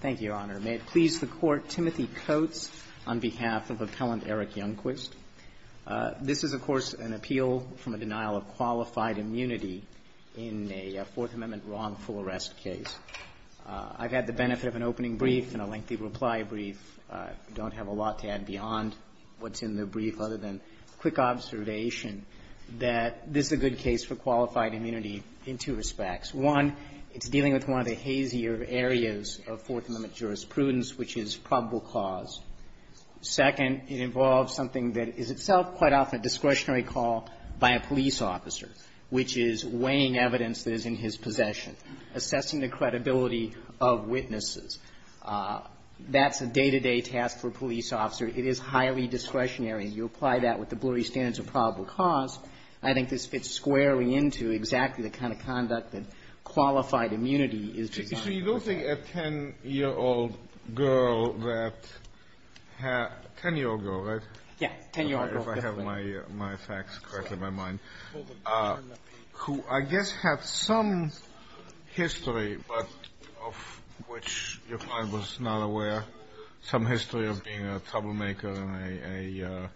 Thank you, Your Honor. May it please the Court, Timothy Coates on behalf of Appellant Eric Youngquist. This is, of course, an appeal from a denial of qualified immunity in a Fourth Amendment wrongful arrest case. I've had the benefit of an opening brief and a lengthy reply brief. I don't have a lot to add beyond what's in the brief other than a quick observation that this is a good case for qualified immunity in two respects. One, it's dealing with one of the hazier areas of Fourth Amendment jurisprudence, which is probable cause. Second, it involves something that is itself quite often a discretionary call by a police officer, which is weighing evidence that is in his possession, assessing the credibility of witnesses. That's a day-to-day task for a police officer. It is highly discretionary. You apply that with the blurry standards of probable cause. I think this fits squarely into exactly the kind of conduct that qualified immunity is designed to do. Kennedy So you don't think a 10-year-old girl that had — 10-year-old girl, right? Youngquist Yes, 10-year-old girl, definitely. Kennedy If I have my facts correctly in my mind. Who I guess had some history, but of which your client was not aware, some history of being a troublemaker and a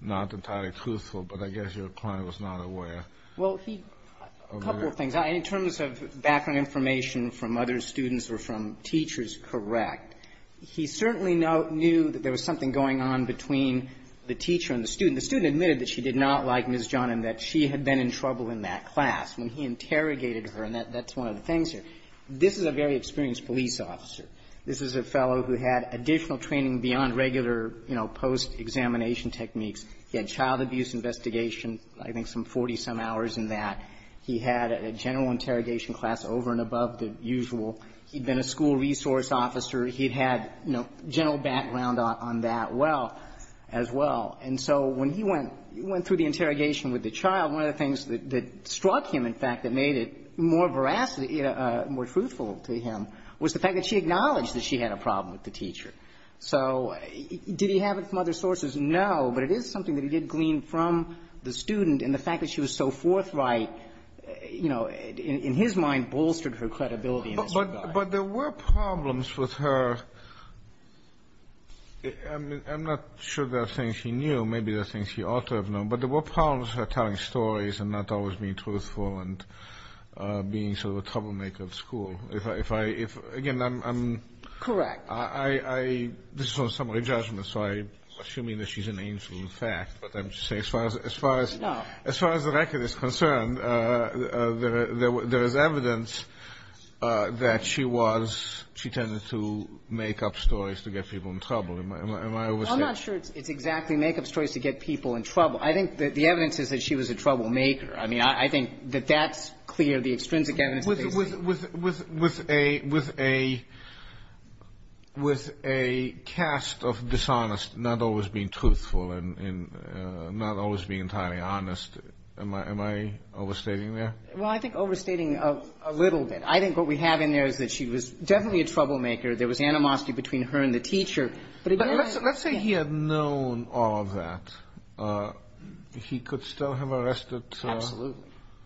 not entirely truthful, but I guess your client was not aware. Youngquist Well, he — a couple of things. In terms of background information from other students or from teachers, correct. He certainly knew that there was something going on between the teacher and the student. The student admitted that she did not like Ms. John and that she had been in trouble in that class when he interrogated her, and that's one of the things here. This is a very experienced police officer. This is a fellow who had additional training beyond regular, you know, post-examination techniques. He had child abuse investigation, I think some 40-some hours in that. He had a general interrogation class over and above the usual. He'd been a school resource officer. He'd had, you know, general background on that well — as well. And so when he went — went through the interrogation with the child, one of the things that struck him, in fact, that made it more veracity — more truthful to him was the fact that she acknowledged that she had a problem with the teacher. So did he have it from other sources? No. But it is something that he did glean from the student, and the fact that she was so forthright, you know, in his mind, bolstered her credibility in this regard. Kennedy But there were problems with her — I'm not sure they're things she knew. Maybe they're things she ought to have known. But there were problems with her telling stories and not always being truthful and being sort of a troublemaker of school. If I — if — again, I'm — I'm — Correct. I — this is on summary judgment, so I'm assuming that she's an angel, in fact. But I'm just saying, as far as — as far as — No. As far as the record is concerned, there is evidence that she was — she tended to make up stories to get people in trouble. Am I — am I overstepping? I'm not sure it's exactly make-up stories to get people in trouble. I think that the evidence is that she was a troublemaker. I mean, I think that that's clear. The extrinsic evidence is basically — With — with — with a — with a — with a cast of dishonest, not always being truthful and not always being entirely honest, am I — am I overstating there? Well, I think overstating a little bit. I think what we have in there is that she was definitely a troublemaker. There was animosity between her and the teacher. But it really — But let's — let's say he had known all of that. He could still have arrested —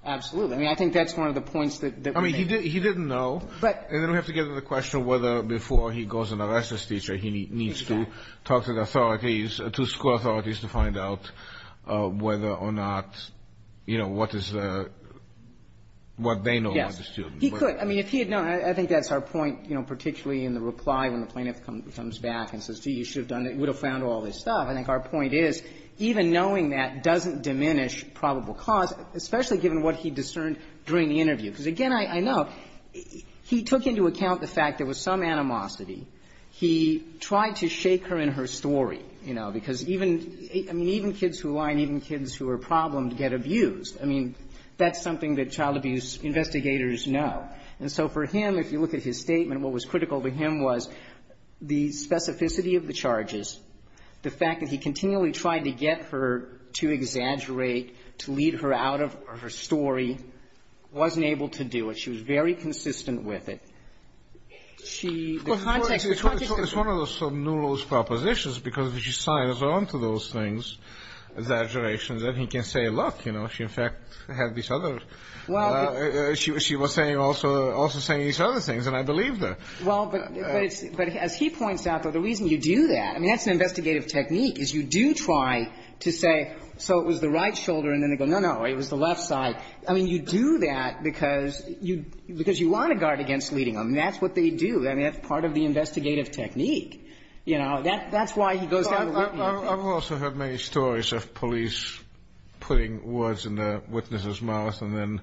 Absolutely. I mean, I think that's one of the points that — I mean, he didn't know. But — And then we have to get to the question of whether before he goes and arrests this teacher, he needs to talk to the authorities, to school authorities, to find out whether or not, you know, what is the — what they know about the student. Yes. He could. I mean, if he had known — I think that's our point, you know, particularly in the reply when the plaintiff comes back and says, gee, you should have done it, you would have found all this stuff. I think our point is, even knowing that doesn't diminish probable cause, especially given what he discerned during the interview. Because, again, I know he took into account the fact there was some animosity. He tried to shake her in her story, you know, because even — I mean, even kids who lie and even kids who are problemed get abused. I mean, that's something that child abuse investigators know. And so for him, if you look at his statement, what was critical to him was the specificity of the charges, the fact that he continually tried to get her to exaggerate, to lead her out of her story, wasn't able to do it. She was very consistent with it. She — The context — It's one of those sort of Newell's propositions, because if she signs on to those things, exaggerations, then he can say, look, you know, she, in fact, had these other — she was saying also — also saying these other things, and I believe that. Well, but it's — but as he points out, though, the reason you do that — I mean, that's an investigative technique, is you do try to say, so it was the right shoulder, and then they go, no, no, it was the left side. I mean, you do that because you — because you want to guard against leading them. That's what they do. I mean, that's part of the investigative technique, you know. That — that's why he goes down the — Well, I've also heard many stories of police putting words in the witness's mouth and then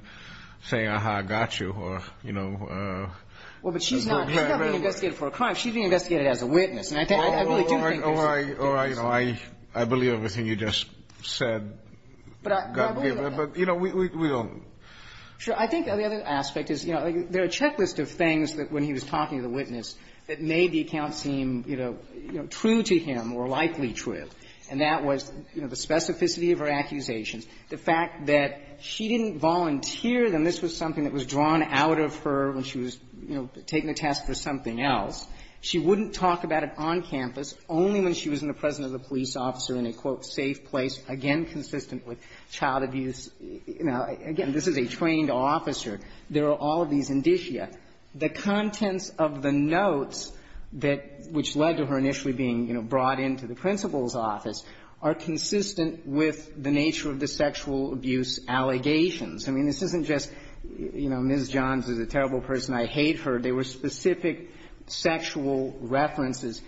saying, aha, I got you, or, you know, a good paramedic — Well, but she's not — she's not being investigated for a crime. She's being investigated as a witness. And I think — I really do think it's an investigative technique. Or I — or I — or I — I believe everything you just said. But I believe that. But, you know, we — we don't. Sure. I think the other aspect is, you know, there are a checklist of things that, when he was talking to the witness, that made the account seem, you know, true to him or likely true to him, and that was, you know, the specificity of her accusations, the fact that she didn't volunteer, and this was something that was drawn out of her when she was, you know, taking a test for something else. She wouldn't talk about it on campus, only when she was in the presence of the police officer in a, quote, safe place, again, consistent with child abuse. You know, again, this is a trained officer. There are all of these indicia. The contents of the notes that — which led to her initially being, you know, brought into the principal's office are consistent with the nature of the sexual abuse allegations. I mean, this isn't just, you know, Ms. Johns is a terrible person, I hate her. There were specific sexual references.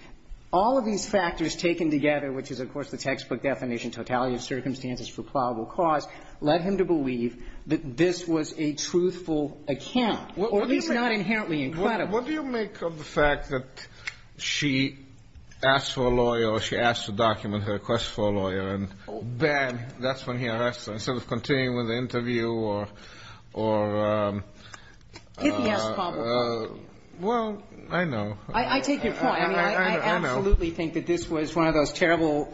All of these factors taken together, which is, of course, the textbook definition, totality of circumstances for probable cause, led him to believe that this was a truthful account, or at least not inherently incredible. What do you make of the fact that she asked for a lawyer, or she asked to document her request for a lawyer, and then that's when he arrested her, instead of continuing with the interview or — Well, I know. I take your point. I mean, I absolutely think that this was one of those terrible,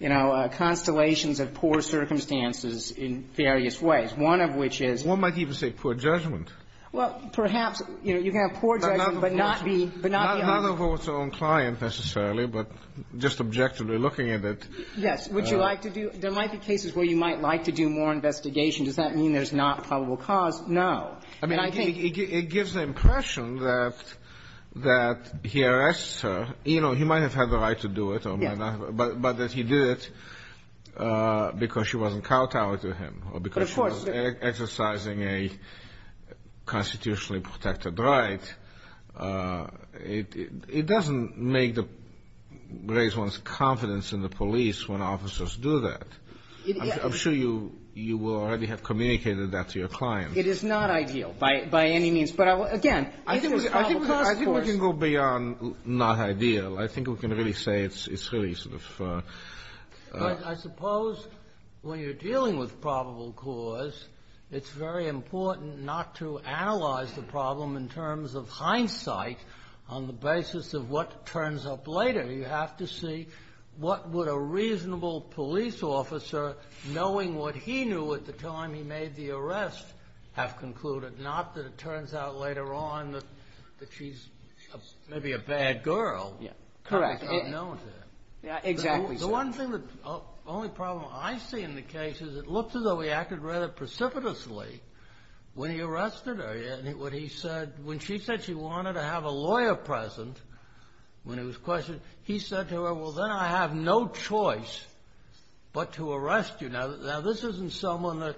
you know, constellations of poor circumstances in various ways, one of which is — One might even say poor judgment. Well, perhaps, you know, you can have poor judgment, but not be — But not the officer. Not the officer's own client, necessarily, but just objectively looking at it. Yes. Would you like to do — there might be cases where you might like to do more investigation. Does that mean there's not probable cause? No. I mean, it gives the impression that he arrests her. You know, he might have had the right to do it or might not have, but that he did it because she wasn't kowtowing to him or because she was exercising a constitutionally protected right, it doesn't make the — raise one's confidence in the police when officers do that. I'm sure you will already have communicated that to your client. It is not ideal by any means. But, again, I think it's probable cause. I think we can go beyond not ideal. I think we can really say it's really sort of — I suppose when you're dealing with probable cause, it's very important not to analyze the problem in terms of hindsight on the basis of what turns up later. You have to see what would a reasonable police officer, knowing what he knew at the time he made the arrest, have concluded, not that it turns out later on that she's maybe a bad girl. Correct. Because I don't know him. Exactly. The one thing that — the only problem I see in the case is it looks as though he acted rather precipitously when he arrested her. When he said — when she said she wanted to have a lawyer present when it was questioned, he said to her, well, then I have no choice but to arrest you. Now, this isn't someone that,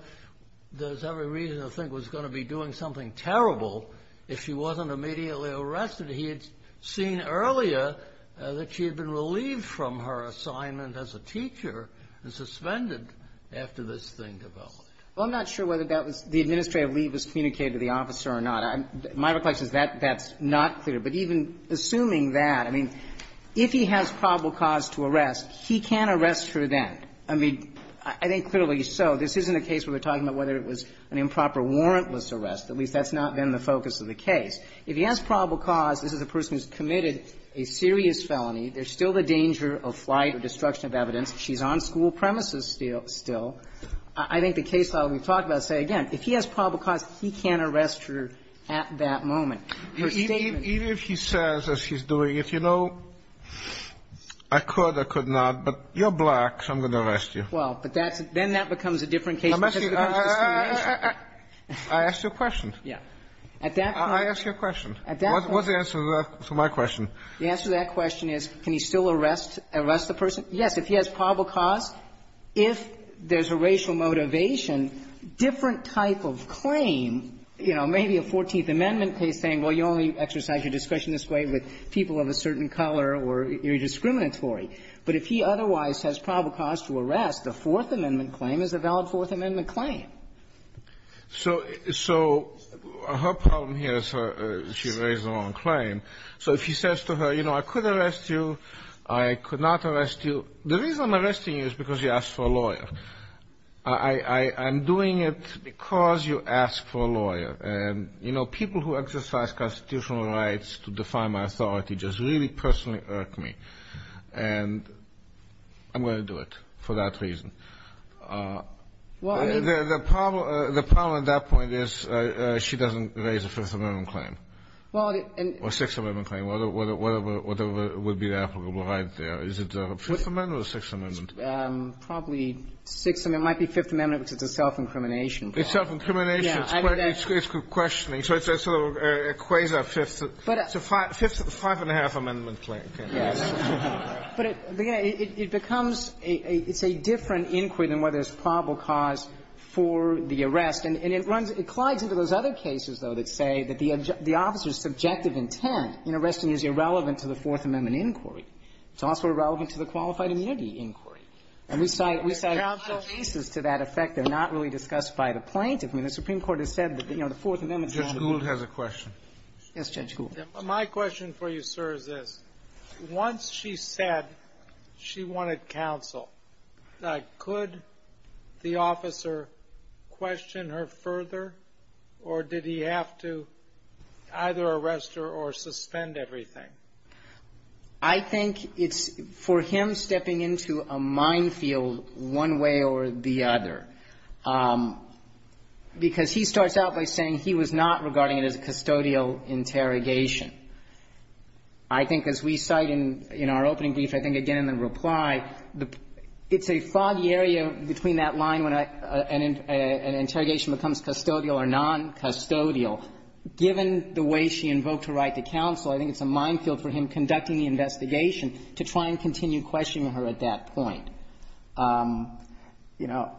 there's every reason to think, was going to be doing something terrible if she wasn't immediately arrested. He had seen earlier that she had been relieved from her assignment as a teacher and suspended after this thing developed. Well, I'm not sure whether that was — the administrative leave was communicated to the officer or not. My reflection is that that's not clear. But even assuming that, I mean, if he has probable cause to arrest, he can arrest her then. I mean, I think clearly so. This isn't a case where we're talking about whether it was an improper warrantless arrest. At least that's not been the focus of the case. If he has probable cause, this is a person who's committed a serious felony. There's still the danger of flight or destruction of evidence. She's on school premises still. I think the case law we've talked about, say again, if he has probable cause, he can't arrest her at that moment. Her statement — Even if she says, as she's doing, if you know — I could, I could not. But you're black, so I'm going to arrest you. Well, but that's — then that becomes a different case because of the kind of discrimination. I asked you a question. Yeah. At that point — I asked you a question. At that point — What's the answer to that — to my question? The answer to that question is, can he still arrest — arrest the person? Yes. If he has probable cause, if there's a racial motivation, different type of claim, you know, maybe a Fourteenth Amendment case saying, well, you only exercise your discretion this way with people of a certain color or you're discriminatory. But if he otherwise has probable cause to arrest, the Fourth Amendment claim is a valid Fourth Amendment claim. So — so her problem here is she raised the wrong claim. So if he says to her, you know, I could arrest you, I could not arrest you, the reason I'm arresting you is because you asked for a lawyer. I'm doing it because you asked for a lawyer. And, you know, people who exercise constitutional rights to define my authority just really personally irk me. And I'm going to do it for that reason. Well, I mean — The problem — the problem at that point is she doesn't raise a Fifth Amendment claim. Well, and — Or Sixth Amendment claim, whatever — whatever would be applicable right there. Is it the Fifth Amendment or the Sixth Amendment? Probably Sixth — it might be Fifth Amendment because it's a self-incrimination claim. It's self-incrimination. Yeah. I mean, that's — It's questioning. So it's a sort of a quasi-Fifth — But — It's a five — five-and-a-half Amendment claim. Yes. But it — it becomes a — it's a different inquiry than whether it's probable cause for the arrest. And it runs — it collides into those other cases, though, that say that the officer's subjective intent in arresting you is irrelevant to the Fourth Amendment inquiry. It's also irrelevant to the qualified immunity inquiry. And we cite — we cite a lot of cases to that effect. They're not really discussed by the plaintiff. I mean, the Supreme Court has said that, you know, the Fourth Amendment is — Judge Gould has a question. Yes, Judge Gould. My question for you, sir, is this. Once she said she wanted counsel, could the officer question her further, or did he have to either arrest her or suspend everything? I think it's — for him stepping into a minefield one way or the other, because he starts out by saying he was not regarding it as a custodial interrogation. I think as we cite in — in our opening brief, I think again in the reply, the — it's a foggy area between that line when an interrogation becomes custodial or noncustodial. Given the way she invoked her right to counsel, I think it's a minefield for him conducting the investigation to try and continue questioning her at that point. You know,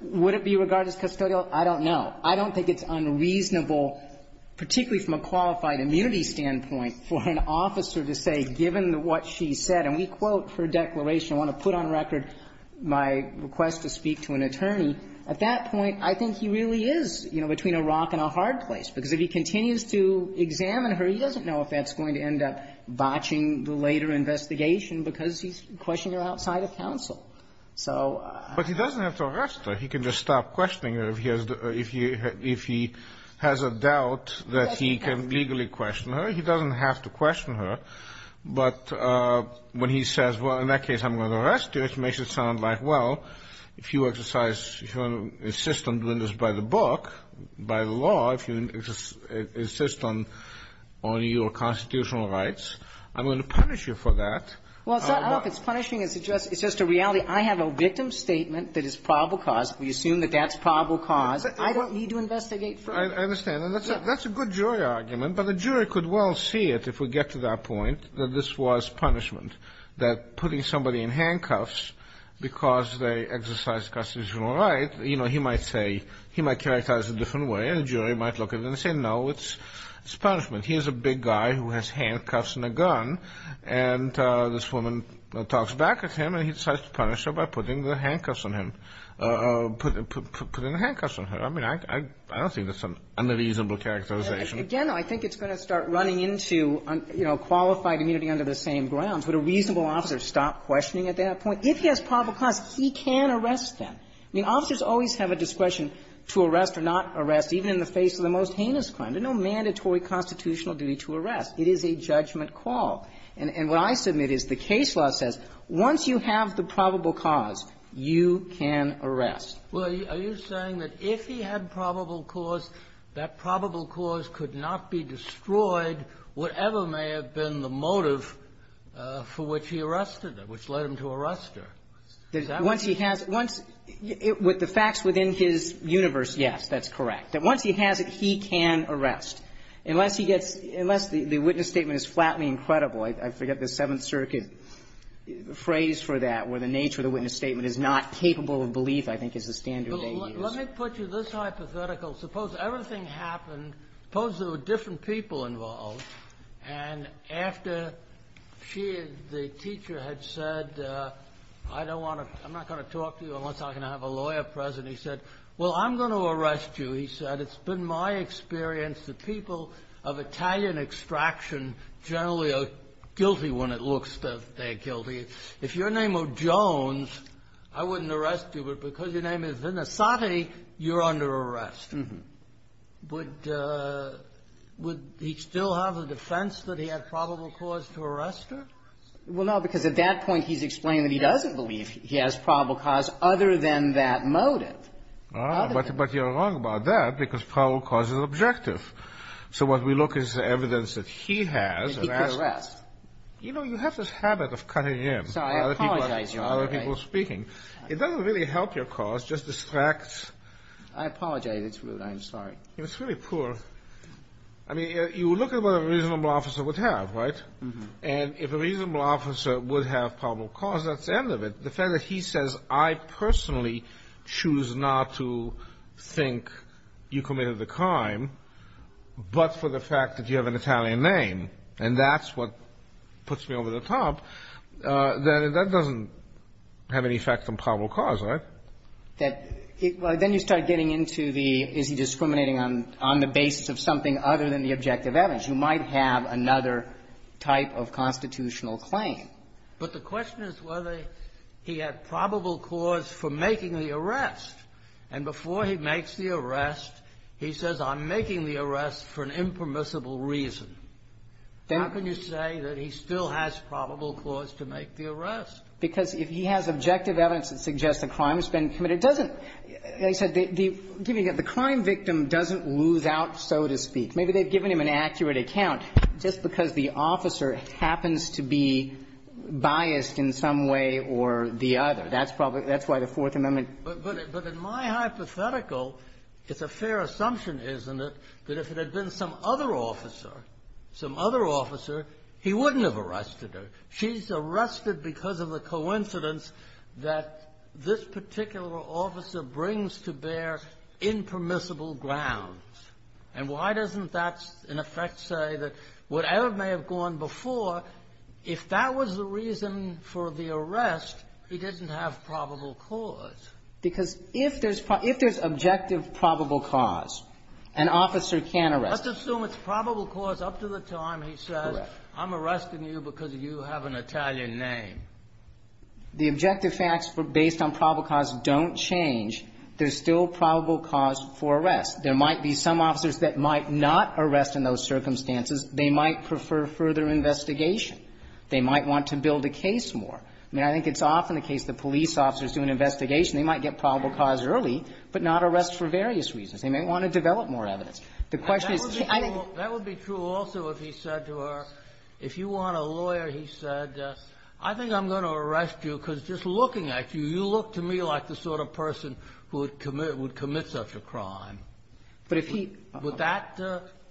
would it be regarded as custodial? I don't know. I don't think it's unreasonable, particularly from a qualified immunity standpoint, for an officer to say, given what she said, and we quote her declaration, I want to put on record my request to speak to an attorney, at that point, I think he really is, you know, between a rock and a hard place, because if he continues to examine her, he doesn't know if that's going to end up botching the later investigation because he's questioning her outside of counsel. So I don't know. I don't know if he's going to stop questioning her if he has a doubt that he can legally question her. He doesn't have to question her. But when he says, well, in that case, I'm going to arrest you, it makes it sound like, well, if you exercise — if you insist on doing this by the book, by the law, if you insist on your constitutional rights, I'm going to punish you for that. Well, it's not — I don't know if it's punishing. It's just a reality. I have a victim statement that is probable cause. We assume that that's probable cause. I don't need to investigate further. I understand. And that's a good jury argument, but the jury could well see it, if we get to that point, that this was punishment, that putting somebody in handcuffs because they exercise constitutional rights, you know, he might say — he might characterize it a different way, and the jury might look at it and say, no, it's punishment. Here's a big guy who has handcuffs and a gun, and this woman talks back at him, and he decides to punish her by putting the handcuffs on him. Putting the handcuffs on her, I mean, I don't think that's an unreasonable characterization. Again, I think it's going to start running into, you know, qualified immunity under the same grounds. Would a reasonable officer stop questioning at that point? If he has probable cause, he can arrest them. I mean, officers always have a discretion to arrest or not arrest, even in the face of the most heinous crime. There's no mandatory constitutional duty to arrest. It is a judgment call. And what I submit is the case law says once you have the probable cause, you can arrest. Well, are you saying that if he had probable cause, that probable cause could not be destroyed, whatever may have been the motive for which he arrested her, which led him to arrest her? Is that what you're saying? Once he has it, once — with the facts within his universe, yes, that's correct. That once he has it, he can arrest. Unless he gets — unless the witness statement is flatly incredible. I forget the Seventh Circuit phrase for that, where the nature of the witness statement is not capable of belief, I think, is the standard they use. Well, let me put you this hypothetical. Suppose everything happened. Suppose there were different people involved. And after she, the teacher, had said, I don't want to — I'm not going to talk to you unless I can have a lawyer present, he said, well, I'm going to arrest you. He said, it's been my experience. The people of Italian extraction generally are guilty when it looks that they're guilty. If your name were Jones, I wouldn't arrest you, but because your name is Vinasati, you're under arrest. Would he still have a defense that he had probable cause to arrest her? Well, no, because at that point, he's explaining that he doesn't believe he has probable cause other than that motive. Other than that motive. But you're wrong about that, because probable cause is objective. So what we look is the evidence that he has. And he could arrest. You know, you have this habit of cutting in. Sorry, I apologize, Your Honor. Other people are speaking. It doesn't really help your cause, just distracts. I apologize. It's rude. I'm sorry. It's really poor. I mean, you look at what a reasonable officer would have, right? And if a reasonable officer would have probable cause, that's the end of it. The fact that he says, I personally choose not to think you committed the crime but for the fact that you have an Italian name, and that's what puts me over the top, that doesn't have any effect on probable cause, right? That he – well, then you start getting into the, is he discriminating on the basis of something other than the objective evidence. You might have another type of constitutional claim. But the question is whether he had probable cause for making the arrest. And before he makes the arrest, he says, I'm making the arrest for an impermissible reason. How can you say that he still has probable cause to make the arrest? Because if he has objective evidence that suggests a crime has been committed, it doesn't – like I said, the – give me a second. The crime victim doesn't lose out, so to speak. Maybe they've given him an accurate account just because the officer happens to be biased in some way or the other. That's probably – that's why the Fourth Amendment – But in my hypothetical, it's a fair assumption, isn't it, that if it had been some other officer, some other officer, he wouldn't have arrested her. She's arrested because of the coincidence that this particular officer brings to bear impermissible grounds. And why doesn't that, in effect, say that whatever may have gone before, if that was the reason for the arrest, he didn't have probable cause? Because if there's – if there's objective probable cause, an officer can arrest. Let's assume it's probable cause up to the time he says, I'm arresting you because you have an Italian name. The objective facts based on probable cause don't change. There's still probable cause for arrest. There might be some officers that might not arrest in those circumstances. They might prefer further investigation. They might want to build a case more. I mean, I think it's often the case the police officers do an investigation. They might get probable cause early, but not arrest for various reasons. They may want to develop more evidence. The question is – That would be true also if he said to her, if you want a lawyer, he said, I think I'm going to arrest you because just looking at you, you look to me like the sort of person who would commit such a crime. But if he – Would that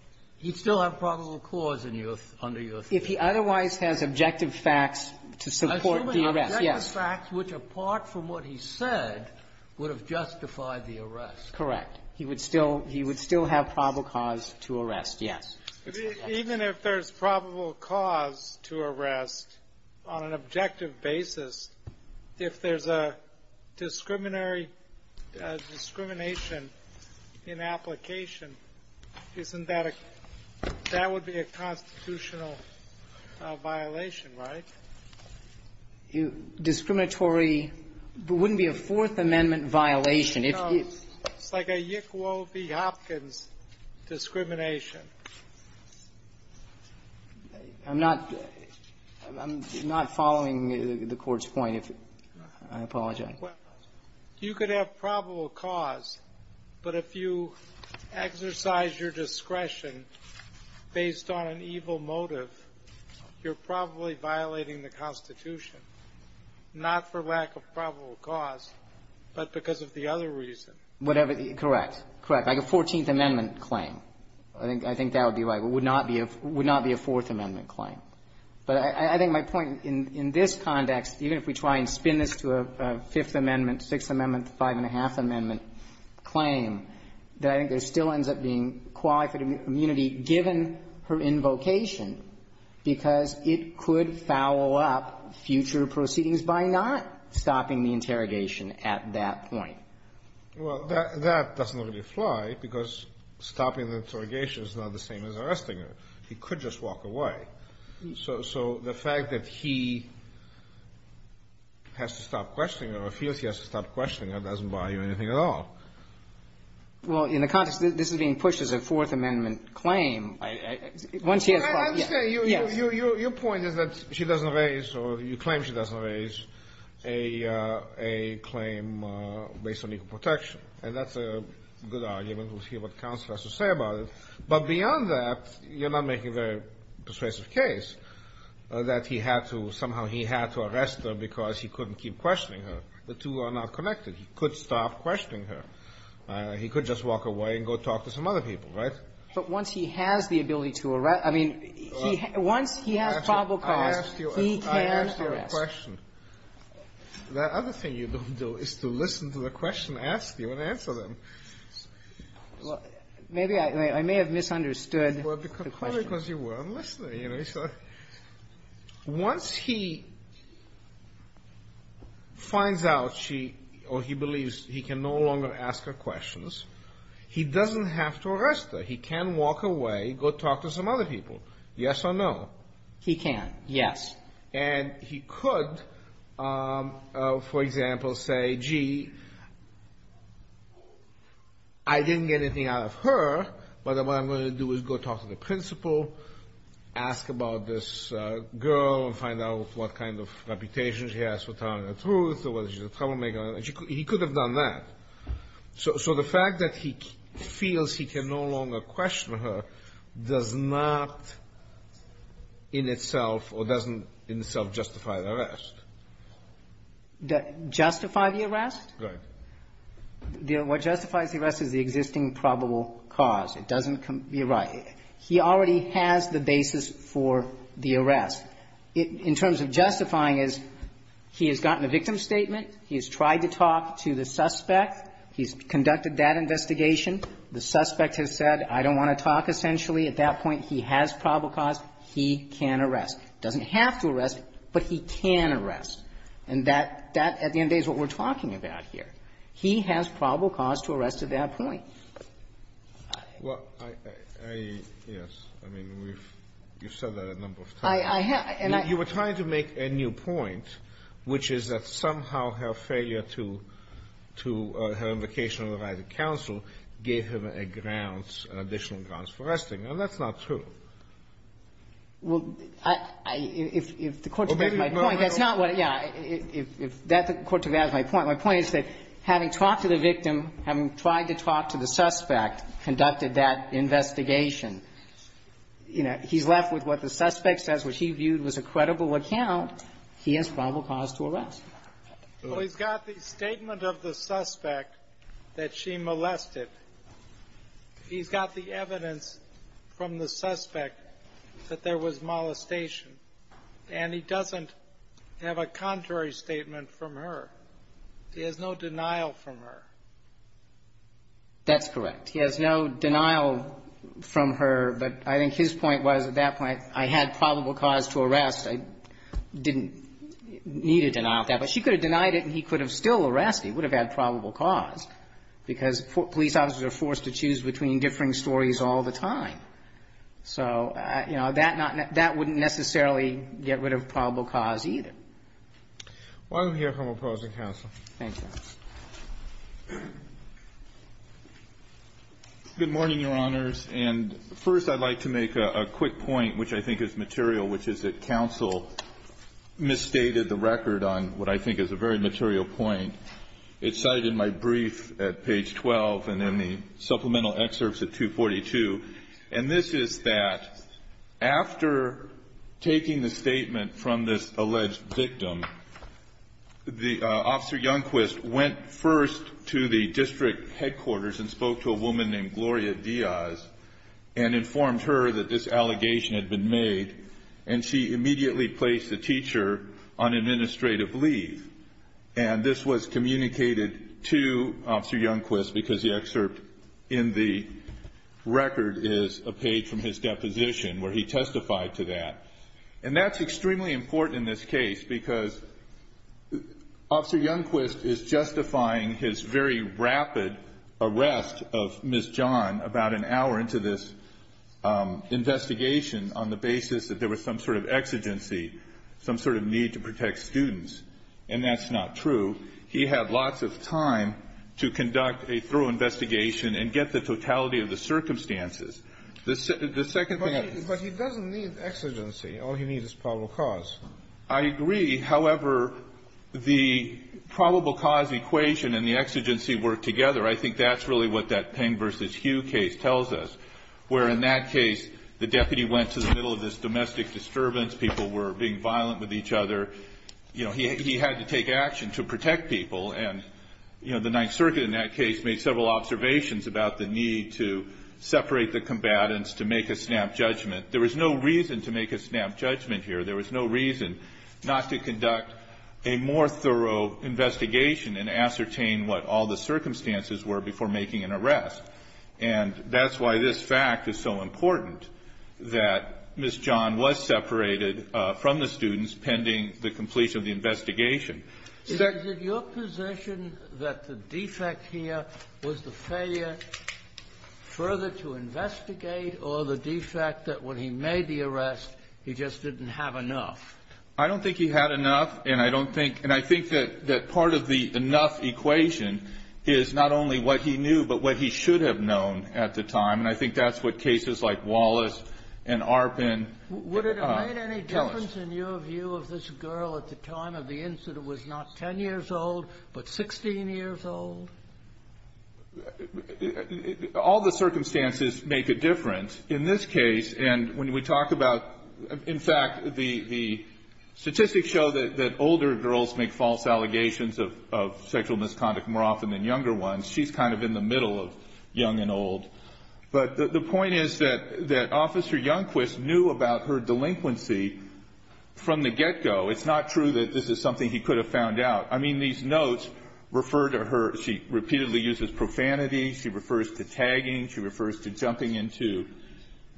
– he'd still have probable cause in your – under your theory. If he otherwise has objective facts to support the arrest. Assuming objective facts which, apart from what he said, would have justified the arrest. Correct. He would still – he would still have probable cause to arrest, yes. Even if there's probable cause to arrest on an objective basis, if there's a discriminatory discrimination in application, isn't that a – that would be a constitutional violation, right? Discriminatory – it wouldn't be a Fourth Amendment violation. No. It's like a Yick Woe v. Hopkins discrimination. I'm not – I'm not following the Court's point, if – I apologize. Well, you could have probable cause, but if you exercise your discretion based on an evil motive, you're probably violating the Constitution, not for lack of probable cause, but because of the other reason. Whatever – correct, correct. Like a Fourteenth Amendment claim, I think – I think that would be right. It would not be a – would not be a Fourth Amendment claim. But I think my point in this context, even if we try and spin this to a Fifth Amendment, Sixth Amendment, Five-and-a-half Amendment claim, that I think there still ends up being qualified immunity given her invocation because it could foul up future proceedings by not stopping the interrogation at that point. Well, that doesn't really apply because stopping the interrogation is not the same as arresting her. He could just walk away. So the fact that he has to stop questioning her or feels he has to stop questioning her doesn't buy you anything at all. Well, in the context that this is being pushed as a Fourth Amendment claim, once he has – I understand. Your point is that she doesn't raise or you claim she doesn't raise a claim based on equal protection, and that's a good argument. We'll see what counsel has to say about it. But beyond that, you're not making a very persuasive case that he had to – somehow he had to arrest her because he couldn't keep questioning her. The two are not connected. He could stop questioning her. He could just walk away and go talk to some other people, right? But once he has the ability to arrest – I mean, once he has probable cause, he can arrest. I asked you a question. The other thing you don't do is to listen to the question asked you and answer them. Maybe I may have misunderstood the question. Well, because you weren't listening. You know, so once he finds out she – or he believes he can no longer ask her questions, he doesn't have to arrest her. He can walk away, go talk to some other people, yes or no. He can, yes. And he could, for example, say, gee, I didn't get anything out of her, but what I'm going to do is go talk to the principal, ask about this girl and find out what kind of reputation she has for telling the truth or whether she's a troublemaker. He could have done that. So the fact that he feels he can no longer question her does not in itself or doesn't in itself justify the arrest? Justify the arrest? Right. What justifies the arrest is the existing probable cause. It doesn't – you're right. He already has the basis for the arrest. In terms of justifying, he has gotten a victim statement, he has tried to talk to the suspect, he's conducted that investigation, the suspect has said, I don't want to talk essentially, at that point he has probable cause, he can arrest. He doesn't have to arrest, but he can arrest. And that, at the end of the day, is what we're talking about here. He has probable cause to arrest at that point. Well, I – yes, I mean, we've said that a number of times. I have – and I – You were trying to make a new point, which is that somehow her failure to – to – her invocation of the right of counsel gave him a grounds, additional grounds for arresting. And that's not true. Well, I – if the Court took that as my point, that's not what – yeah. If that – the Court took that as my point, my point is that having talked to the victim, having tried to talk to the suspect, conducted that investigation. You know, he's left with what the suspect says, which he viewed was a credible account. He has probable cause to arrest. Well, he's got the statement of the suspect that she molested. He's got the evidence from the suspect that there was molestation. And he doesn't have a contrary statement from her. He has no denial from her. That's correct. He has no denial from her, but I think his point was, at that point, I had probable cause to arrest. I didn't need a denial of that. But she could have denied it and he could have still arrested. He would have had probable cause, because police officers are forced to choose between differing stories all the time. So, you know, that not – that wouldn't necessarily get rid of probable cause Why don't we hear from opposing counsel? Thank you, Your Honor. Good morning, Your Honors. And first, I'd like to make a quick point, which I think is material, which is that counsel misstated the record on what I think is a very material point. It's cited in my brief at page 12 and in the supplemental excerpts at 242. And this is that after taking the statement from this alleged victim, the – Officer Youngquist went first to the district headquarters and spoke to a woman named Gloria Diaz and informed her that this allegation had been made. And she immediately placed the teacher on administrative leave. And this was communicated to Officer Youngquist, because the excerpt in the record is a page from his deposition where he testified to that. And that's extremely important in this case, because Officer Youngquist is justifying his very rapid arrest of Ms. John about an hour into this investigation on the basis that there was some sort of exigency, some sort of need to protect students. And that's not true. He had lots of time to conduct a thorough investigation and get the totality of the circumstances. The second thing I think he said was that he had to protect the students, but he didn't need exigency. All he needed was probable cause. I agree. However, the probable cause equation and the exigency work together. I think that's really what that Peng v. Hugh case tells us, where in that case, the deputy went to the middle of this domestic disturbance. People were being violent with each other. You know, he had to take action to protect people. And, you know, the Ninth Circuit in that case made several observations about the need to separate the combatants, to make a snap judgment. There was no reason to make a snap judgment here. There was no reason not to conduct a more thorough investigation and ascertain what all the circumstances were before making an arrest. And that's why this fact is so important, that Ms. John was separated from the students pending the completion of the investigation. Is it your position that the defect here was the failure further to investigate, or the defect that when he made the arrest, he just didn't have enough? I don't think he had enough, and I think that part of the enough equation is not only what he knew, but what he should have known at the time. And I think that's what cases like Wallace and Arpin tell us. Would it have made any difference, in your view, of this girl at the time of the incident was not 10 years old, but 16 years old? All the circumstances make a difference. In this case, and when we talk about, in fact, the statistics show that older girls make false allegations of sexual misconduct more often than younger ones. She's kind of in the middle of young and old. But the point is that Officer Youngquist knew about her delinquency from the get-go. It's not true that this is something he could have found out. I mean, these notes refer to her. She repeatedly uses profanity. She refers to tagging. She refers to jumping into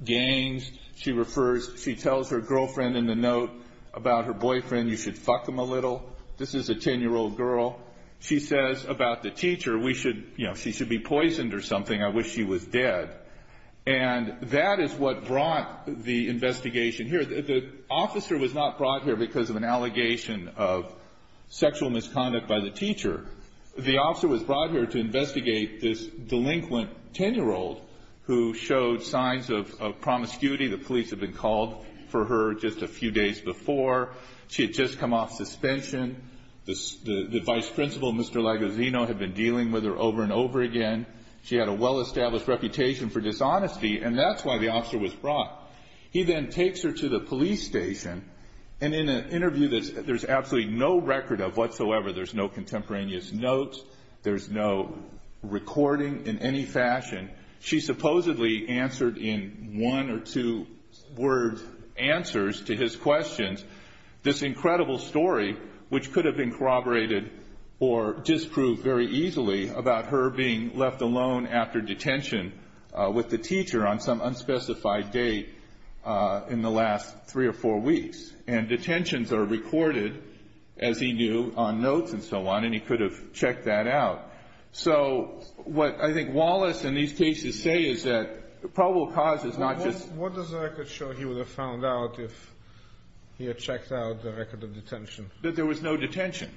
gangs. She refers, she tells her girlfriend in the note about her boyfriend, you should fuck him a little. This is a 10-year-old girl. She says about the teacher, she should be poisoned or something. I wish she was dead. And that is what brought the investigation here. The officer was not brought here because of an allegation of sexual misconduct by the teacher. The officer was brought here to investigate this delinquent 10-year-old who showed signs of promiscuity. The police had been called for her just a few days before. She had just come off suspension. The vice principal, Mr. Lagosino, had been dealing with her over and over again. She had a well-established reputation for dishonesty, and that's why the officer was brought. He then takes her to the police station, and in an interview that there's absolutely no record of whatsoever, there's no contemporaneous notes, there's no recording in any fashion, she supposedly answered in one or two-word answers to his questions this incredible story which could have been corroborated or disproved very easily about her being left alone after detention with the teacher on some unspecified date in the last three or four weeks. And detentions are recorded, as he knew, on notes and so on, and he could have checked that out. So what I think Wallace in these cases say is that probable cause is not just... What does the record show he would have found out if he had checked out the record of detention? That there was no detention.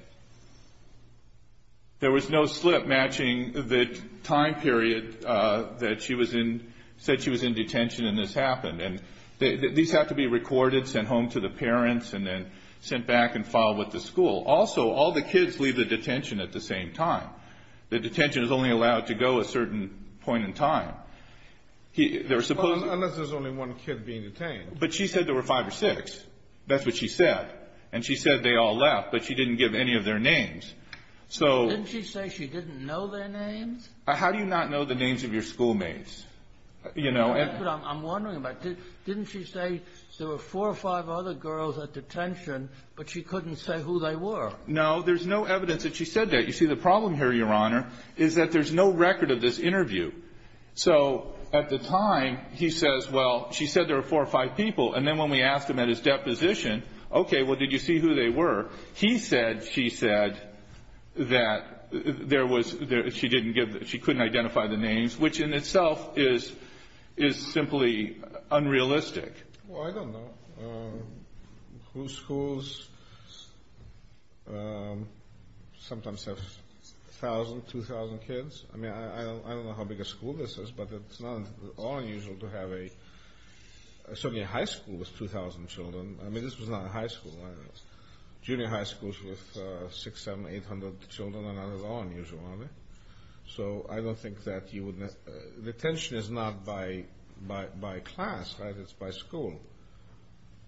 There was no slip matching the time period that she was in... said she was in detention and this happened. And these have to be recorded, sent home to the parents, and then sent back and filed with the school. Also, all the kids leave the detention at the same time. The detention is only allowed to go a certain point in time. Unless there's only one kid being detained. But she said there were five or six. That's what she said. And she said they all left, but she didn't give any of their names. So... Didn't she say she didn't know their names? How do you not know the names of your schoolmates? You know... That's what I'm wondering about. Didn't she say there were four or five other girls at detention, but she couldn't say who they were? No, there's no evidence that she said that. You see, the problem here, Your Honor, is that there's no record of this interview. So at the time, he says, well, she said there were four or five people. And then when we asked him at his deposition, okay, well, did you see who they were? He said she said that there was... She didn't give... She couldn't identify the names, which in itself is simply unrealistic. Well, I don't know whose schools sometimes have 1,000, 2,000 kids. I mean, I don't know how big a school this is, but it's not at all unusual to have a... A high school with 2,000 children. I mean, this was not a high school. Junior high schools with 600, 700, 800 children are not at all unusual, are they? So I don't think that you would... Detention is not by class, right? It's by school.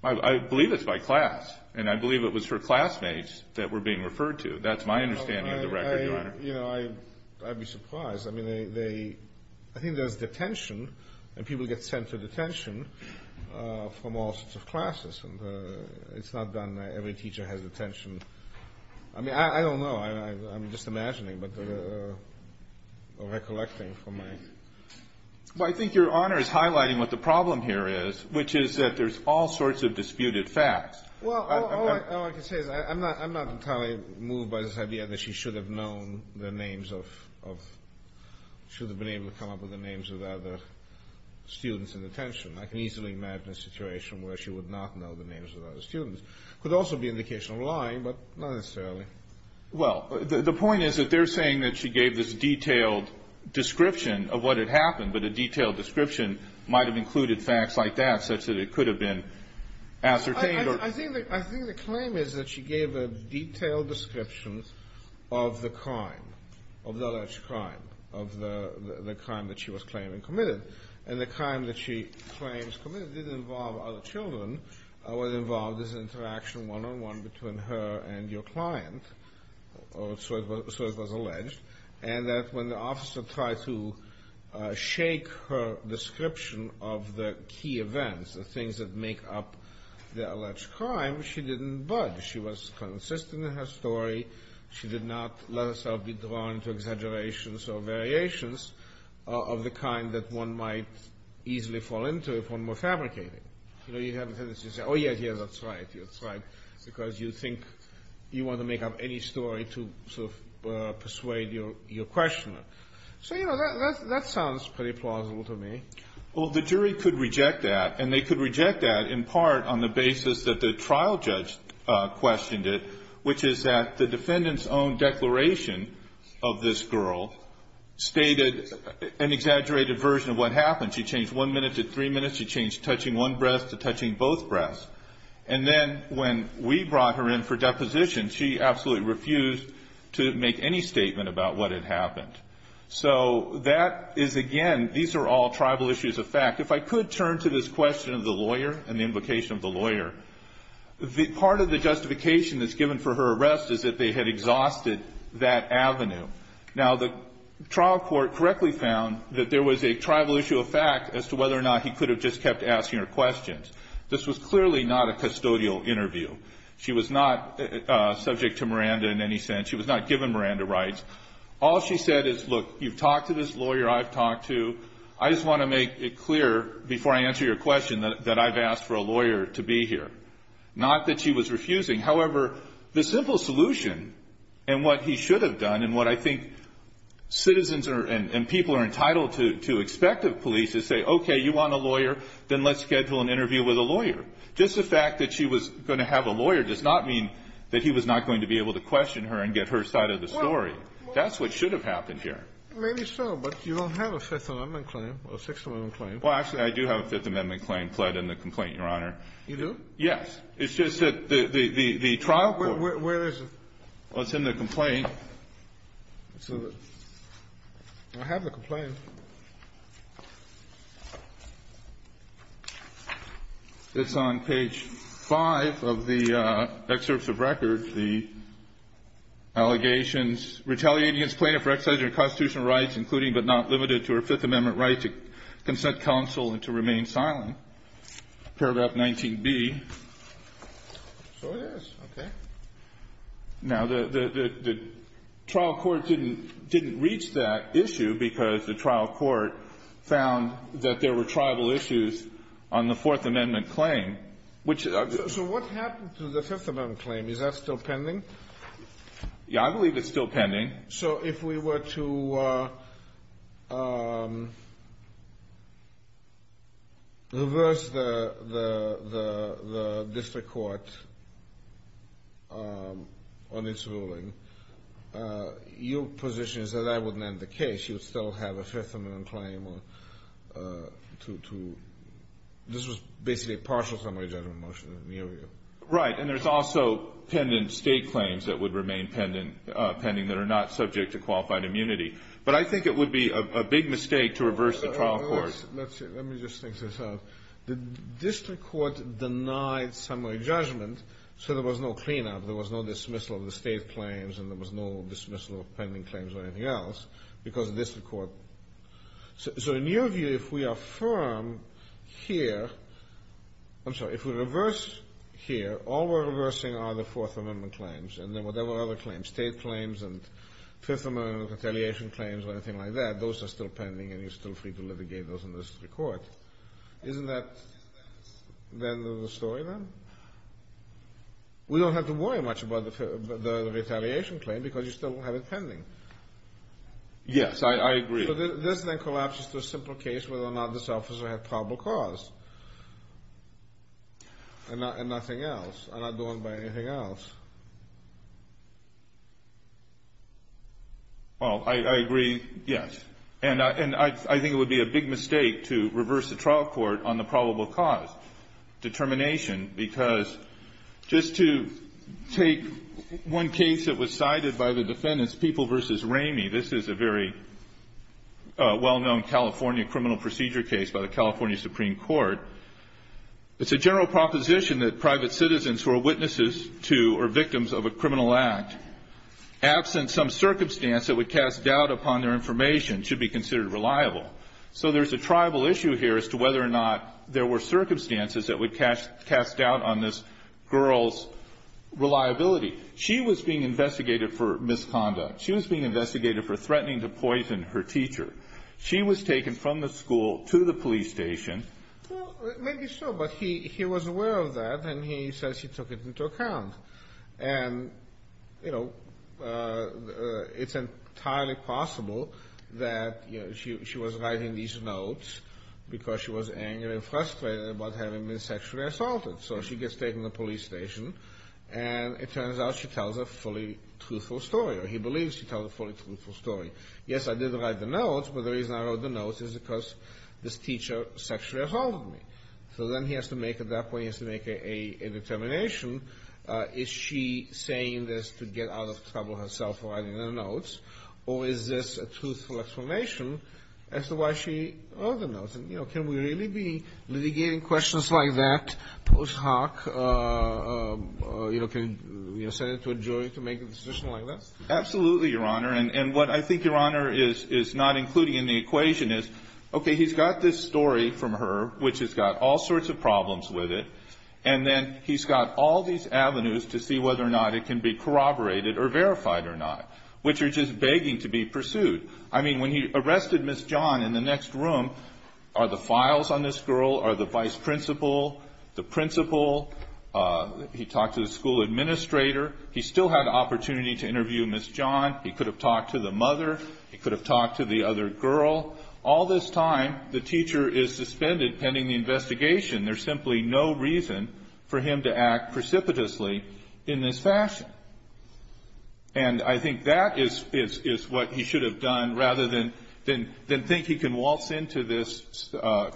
I believe it's by class, and I believe it was her classmates that were being referred to. That's my understanding of the record, Your Honor. You know, I'd be surprised. I mean, they... I think there's detention, and people get sent to detention from all sorts of classes, and it's not that every teacher has detention. I mean, I don't know. I'm just imagining, but recollecting from my... Well, I think Your Honor is highlighting what the problem here is, which is that there's all sorts of disputed facts. And that she should have known the names of... Should have been able to come up with the names of other students in detention. I can easily imagine a situation where she would not know the names of other students. Could also be an indication of lying, but not necessarily. Well, the point is that they're saying that she gave this detailed description of what had happened, but a detailed description might have included facts like that, such that it could have been ascertained or... I think the claim is that she gave a detailed description of the crime, of the alleged crime, of the crime that she was claiming committed. And the crime that she claims committed didn't involve other children. It was involved as an interaction one-on-one between her and your client, or so it was alleged. And that when the officer tried to shake her description of the key events, the things that make up the alleged crime, she didn't budge. She was consistent in her story. She did not let herself be drawn to exaggerations or variations of the kind that one might easily fall into if one were fabricating. You know, you have a tendency to say, oh, yes, yes, that's right. That's right. Because you think you want to make up any story to sort of persuade your questioner. So, you know, that sounds pretty plausible to me. Well, the jury could reject that. And they could reject that in part on the basis that the trial judge questioned it, which is that the defendant's own declaration of this girl stated an exaggerated version of what happened. She changed one minute to three minutes. She changed touching one breast to touching both breasts. And then when we brought her in for deposition, she absolutely refused to make any statement about what had happened. So that is, again, these are all tribal issues of fact. If I could turn to this question of the lawyer and the invocation of the lawyer, part of the justification that's given for her arrest is that they had exhausted that avenue. Now, the trial court correctly found that there was a tribal issue of fact as to whether or not he could have just kept asking her questions. This was clearly not a custodial interview. She was not subject to Miranda in any sense. She was not given Miranda rights. All she said is, look, you've talked to this lawyer I've talked to. I just want to make it clear before I answer your question that I've asked for a lawyer to be here. Not that she was refusing. However, the simple solution, and what he should have done, and what I think citizens and people are entitled to expect of police, is say, okay, you want a lawyer? Then let's schedule an interview with a lawyer. Just the fact that she was going to have a lawyer does not mean that he was not going to be able to question her and get her side of the story. That's what should have happened here. Maybe so, but you don't have a Fifth Amendment claim, or Sixth Amendment claim. Well, actually, I do have a Fifth Amendment claim pled in the complaint, Your Honor. You do? Yes. It's just that the trial court- Where is it? Well, it's in the complaint. I have the complaint. It's on page five of the excerpts of record. The allegations, retaliating against plaintiff for excising her constitutional rights, including but not limited to her Fifth Amendment right to consent counsel and to remain silent, paragraph 19B. So it is, okay. Now, the trial court didn't reach that issue because the trial court found that there were tribal issues on the Fourth Amendment claim. So what happened to the Fifth Amendment claim? Is that still pending? Yeah, I believe it's still pending. So if we were to reverse the district court on its ruling, your position is that that wouldn't end the case. That you would still have a Fifth Amendment claim to, this was basically a partial summary judgment motion in the area. Right, and there's also state claims that would remain pending that are not subject to qualified immunity, but I think it would be a big mistake to reverse the trial court. Let me just think this out. The district court denied summary judgment, so there was no cleanup. There was no dismissal of the state claims, and there was no dismissal of pending claims or anything else. Because district court, so in your view, if we are firm here, I'm sorry, if we reverse here, all we're reversing are the Fourth Amendment claims. And then whatever other claims, state claims and Fifth Amendment retaliation claims or anything like that, those are still pending and you're still free to litigate those in the district court. Isn't that the end of the story then? We don't have to worry much about the retaliation claim because you still have it pending. Yes, I agree. So this then collapses to a simple case whether or not this officer had probable cause and nothing else. I'm not going by anything else. Well, I agree, yes. And I think it would be a big mistake to reverse the trial court on the probable cause determination because just to take one case that was cited by the defendants, People v. Ramey, this is a very well-known California criminal procedure case by the California Supreme Court. It's a general proposition that private citizens who are witnesses to or victims of a criminal act, absent some circumstance that would cast doubt upon their information, should be considered reliable. So there's a tribal issue here as to whether or not there were circumstances that would cast doubt on this girl's reliability. She was being investigated for misconduct. She was being investigated for threatening to poison her teacher. She was taken from the school to the police station. Well, maybe so, but he was aware of that and he says he took it into account. And it's entirely possible that she was writing these notes because she was angry and frustrated about having been sexually assaulted. So she gets taken to the police station and it turns out she tells a fully truthful story, or he believes she tells a fully truthful story. Yes, I did write the notes, but the reason I wrote the notes is because this teacher sexually assaulted me. So then he has to make, at that point, he has to make a determination. Is she saying this to get out of trouble herself for writing the notes? And, you know, can we really be litigating questions like that post hoc? You know, can we send it to a jury to make a decision like that? Absolutely, Your Honor. And what I think Your Honor is not including in the equation is, okay, he's got this story from her, which has got all sorts of problems with it, and then he's got all these avenues to see whether or not it can be corroborated or verified or not, which are just begging to be pursued. I mean, when he arrested Ms. John in the next room, are the files on this girl, are the vice principal, the principal, he talked to the school administrator. He still had the opportunity to interview Ms. John. He could have talked to the mother. He could have talked to the other girl. All this time, the teacher is suspended pending the investigation. There's simply no reason for him to act precipitously in this fashion. And I think that is what he should have done rather than think he can waltz into this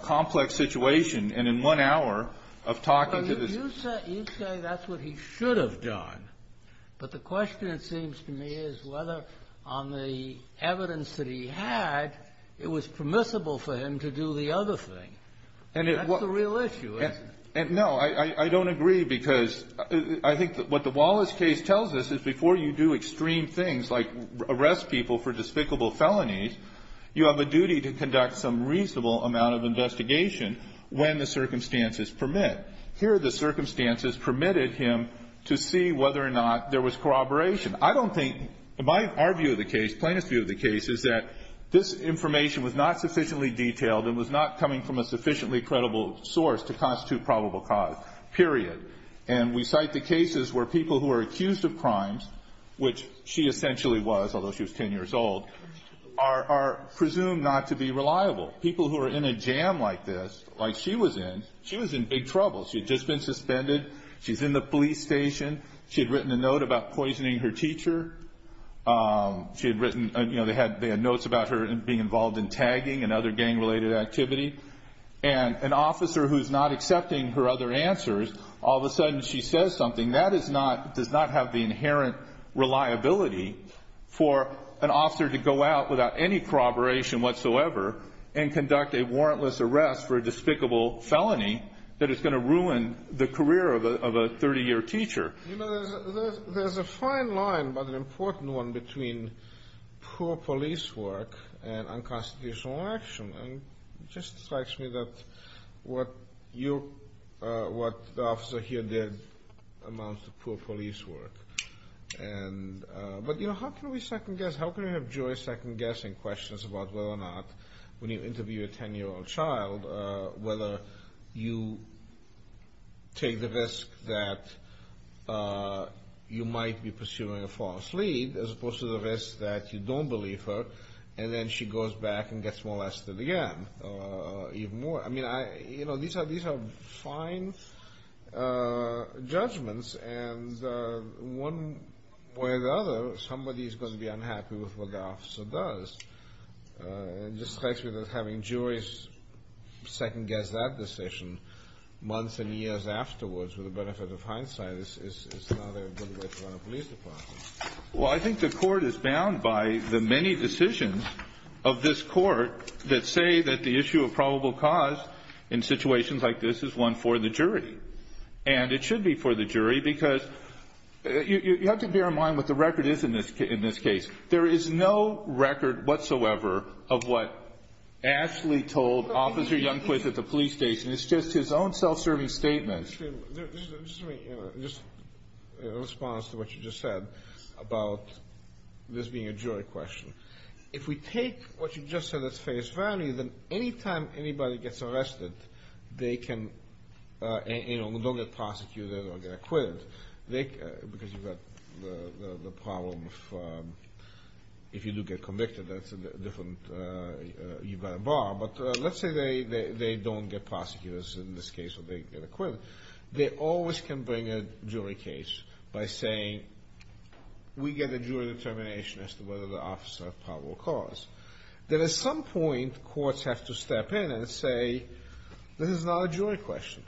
complex situation, and in one hour of talking to this ---- You say that's what he should have done, but the question, it seems to me, is whether on the evidence that he had, it was permissible for him to do the other thing. And that's the real issue, isn't it? No. I don't agree, because I think what the Wallace case tells us is before you do extreme things like arrest people for despicable felonies, you have a duty to conduct some reasonable amount of investigation when the circumstances permit. Here, the circumstances permitted him to see whether or not there was corroboration. I don't think, in our view of the case, plaintiff's view of the case, is that this information was not sufficiently detailed and was not coming from a sufficiently credible source to constitute probable cause, period. And we cite the cases where people who are accused of crimes, which she essentially was, although she was 10 years old, are presumed not to be reliable. People who are in a jam like this, like she was in, she was in big trouble. She had just been suspended. She's in the police station. She had written a note about poisoning her teacher. She had written, you know, they had notes about her being involved in tagging and other gang-related activity. And an officer who's not accepting her other answers, all of a sudden she says something, that does not have the inherent reliability for an officer to go out without any corroboration whatsoever and conduct a warrantless arrest for a despicable felony that is going to ruin the career of a 30-year teacher. You know, there's a fine line, but an important one, between poor police work and unconstitutional action. And it just strikes me that what you, what the officer here did amounts to poor police work. And, but you know, how can we second guess, how can we have joy second guessing questions about whether or not, when you interview a 10-year-old child, whether you take the risk that you might be pursuing a false lead, as opposed to the risk that you don't believe her. And then she goes back and gets molested again, even more. I mean, I, you know, these are, these are fine judgments. And one way or the other, somebody's going to be unhappy with what the officer does. It just strikes me that having juries second guess that decision, months and years afterwards, with the benefit of hindsight, is not a good way to run a police department. Well, I think the court is bound by the many decisions of this court, that say that the issue of probable cause in situations like this is one for the jury. And it should be for the jury, because you have to bear in mind what the record is in this case. There is no record whatsoever of what Ashley told Officer Youngquist at the police station. It's just his own self-serving statement. Just in response to what you just said about this being a jury question. If we take what you just said as face value, then any time anybody gets arrested, they can, you know, don't get prosecuted or get acquitted. They, because you've got the problem of, if you do get convicted, that's a different, you've got a bar. But let's say they don't get prosecuted in this case, or they get acquitted. They always can bring a jury case by saying, we get a jury determination as to whether the officer of probable cause. Then at some point, courts have to step in and say, this is not a jury question.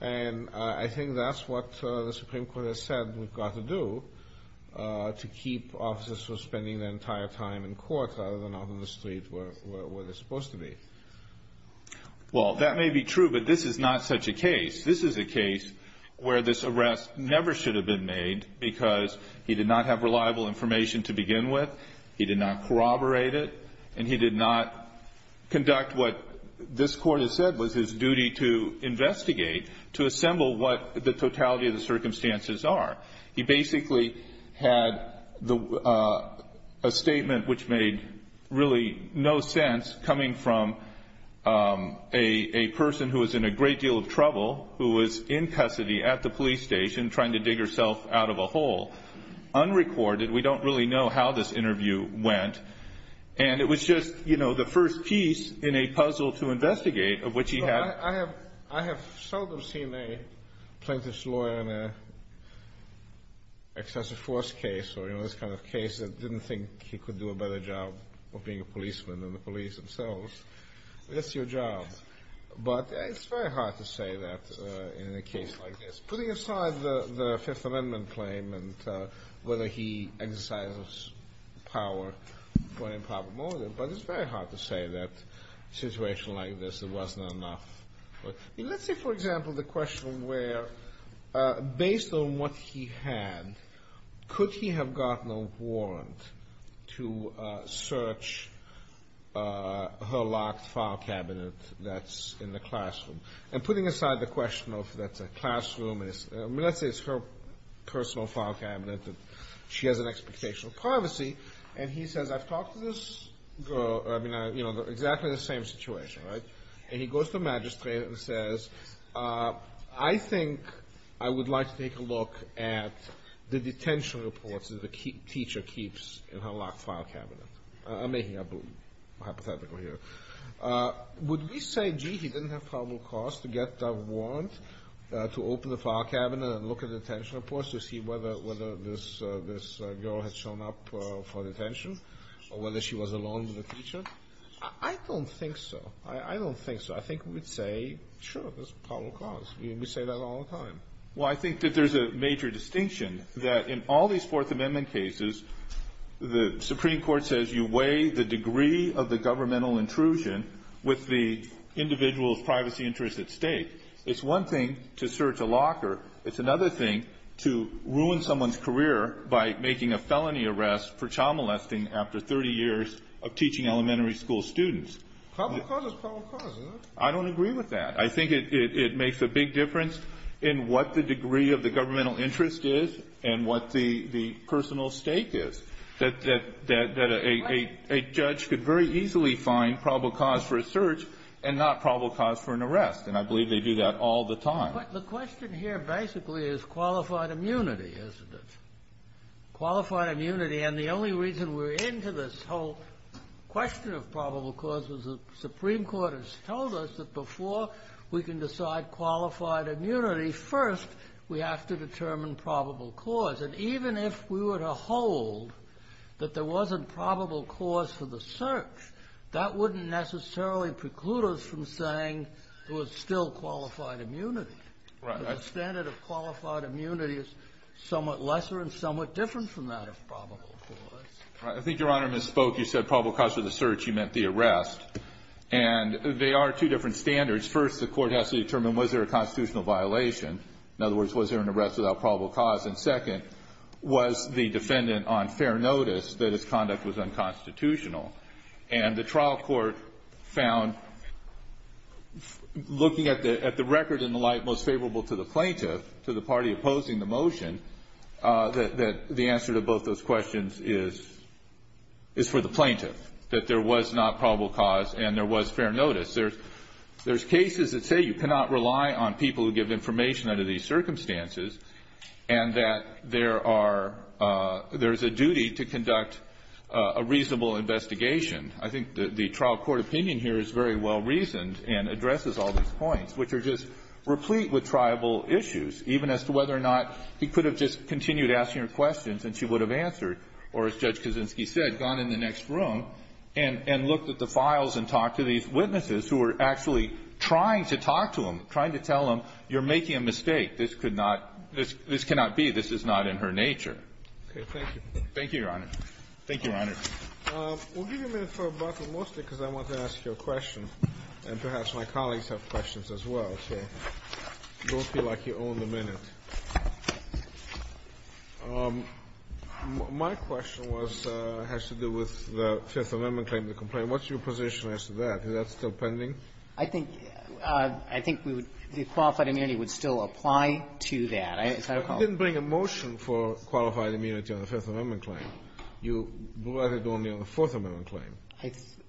And I think that's what the Supreme Court has said we've got to do, to keep officers from spending their entire time in court, rather than out on the street where they're supposed to be. Well, that may be true, but this is not such a case. This is a case where this arrest never should have been made, because he did not have reliable information to begin with. He did not corroborate it. And he did not conduct what this court has said was his duty to investigate, to assemble what the totality of the circumstances are. He basically had a statement which made really no sense, coming from a person who was in a great deal of trouble, who was in custody at the police station, trying to dig herself out of a hole. Unrecorded, we don't really know how this interview went. And it was just the first piece in a puzzle to investigate, of which he had- I have seldom seen a plaintiff's lawyer in an excessive force case, or in this kind of case that didn't think he could do a better job of being a policeman than the police themselves. That's your job. But it's very hard to say that in a case like this. Putting aside the Fifth Amendment claim, and whether he exercises power for improper motive. But it's very hard to say that in a situation like this, it wasn't enough. Let's say, for example, the question where, based on what he had, could he have gotten a warrant to search her locked file cabinet that's in the classroom? And putting aside the question of that's a classroom, let's say it's her personal file cabinet, that she has an expectation of privacy. And he says, I've talked to this girl, exactly the same situation, right? And he goes to the magistrate and says, I think I would like to take a look at the detention reports that the teacher keeps in her locked file cabinet. I'm making a hypothetical here. Would we say, gee, he didn't have probable cause to get a warrant to open the file cabinet and look at detention reports to see whether this girl had shown up for detention, or whether she was alone with the teacher? I don't think so. I don't think so. I think we'd say, sure, there's probable cause. We say that all the time. Well, I think that there's a major distinction that in all these Fourth Amendment cases, the Supreme Court says you weigh the degree of the governmental intrusion with the individual's privacy interests at stake. It's one thing to search a locker. It's another thing to ruin someone's career by making a felony arrest for child molesting after 30 years of teaching elementary school students. Probable cause is probable cause, isn't it? I don't agree with that. I think it makes a big difference in what the degree of the governmental interest is and what the personal stake is, that a judge could very easily find probable cause for a search and not probable cause for an arrest. And I believe they do that all the time. The question here basically is qualified immunity, isn't it? Qualified immunity. And the only reason we're into this whole question of probable cause is the Supreme Court has told us that before we can decide qualified immunity, first we have to determine probable cause. And even if we were to hold that there wasn't probable cause for the search, that wouldn't necessarily preclude us from saying there was still qualified immunity. The standard of qualified immunity is somewhat lesser and somewhat different from that of probable cause. I think Your Honor misspoke. You said probable cause for the search. You meant the arrest. And they are two different standards. First, the court has to determine was there a constitutional violation? In other words, was there an arrest without probable cause? And second, was the defendant on fair notice that his conduct was unconstitutional? And the trial court found, looking at the record in the light most favorable to the plaintiff, to the party opposing the motion, that the answer to both those questions is for the plaintiff, that there was not probable cause and there was fair notice. There's cases that say you cannot rely on people who give information under these circumstances. And that there's a duty to conduct a reasonable investigation. I think the trial court opinion here is very well reasoned and addresses all these points, which are just replete with triable issues. Even as to whether or not he could have just continued asking her questions and she would have answered. Or as Judge Kaczynski said, gone in the next room and looked at the files and talked to these witnesses who were actually trying to talk to him, trying to tell him, you're making a mistake. This could not be. This is not in her nature. Thank you, Your Honor. Thank you, Your Honor. We'll give you a minute for a break, mostly because I want to ask you a question. And perhaps my colleagues have questions as well. So don't feel like you own the minute. My question has to do with the Fifth Amendment claim to complaint. What's your position as to that? Is that still pending? I think we would the qualified immunity would still apply to that, as I recall. You didn't bring a motion for qualified immunity on the Fifth Amendment claim. You brought it only on the Fourth Amendment claim.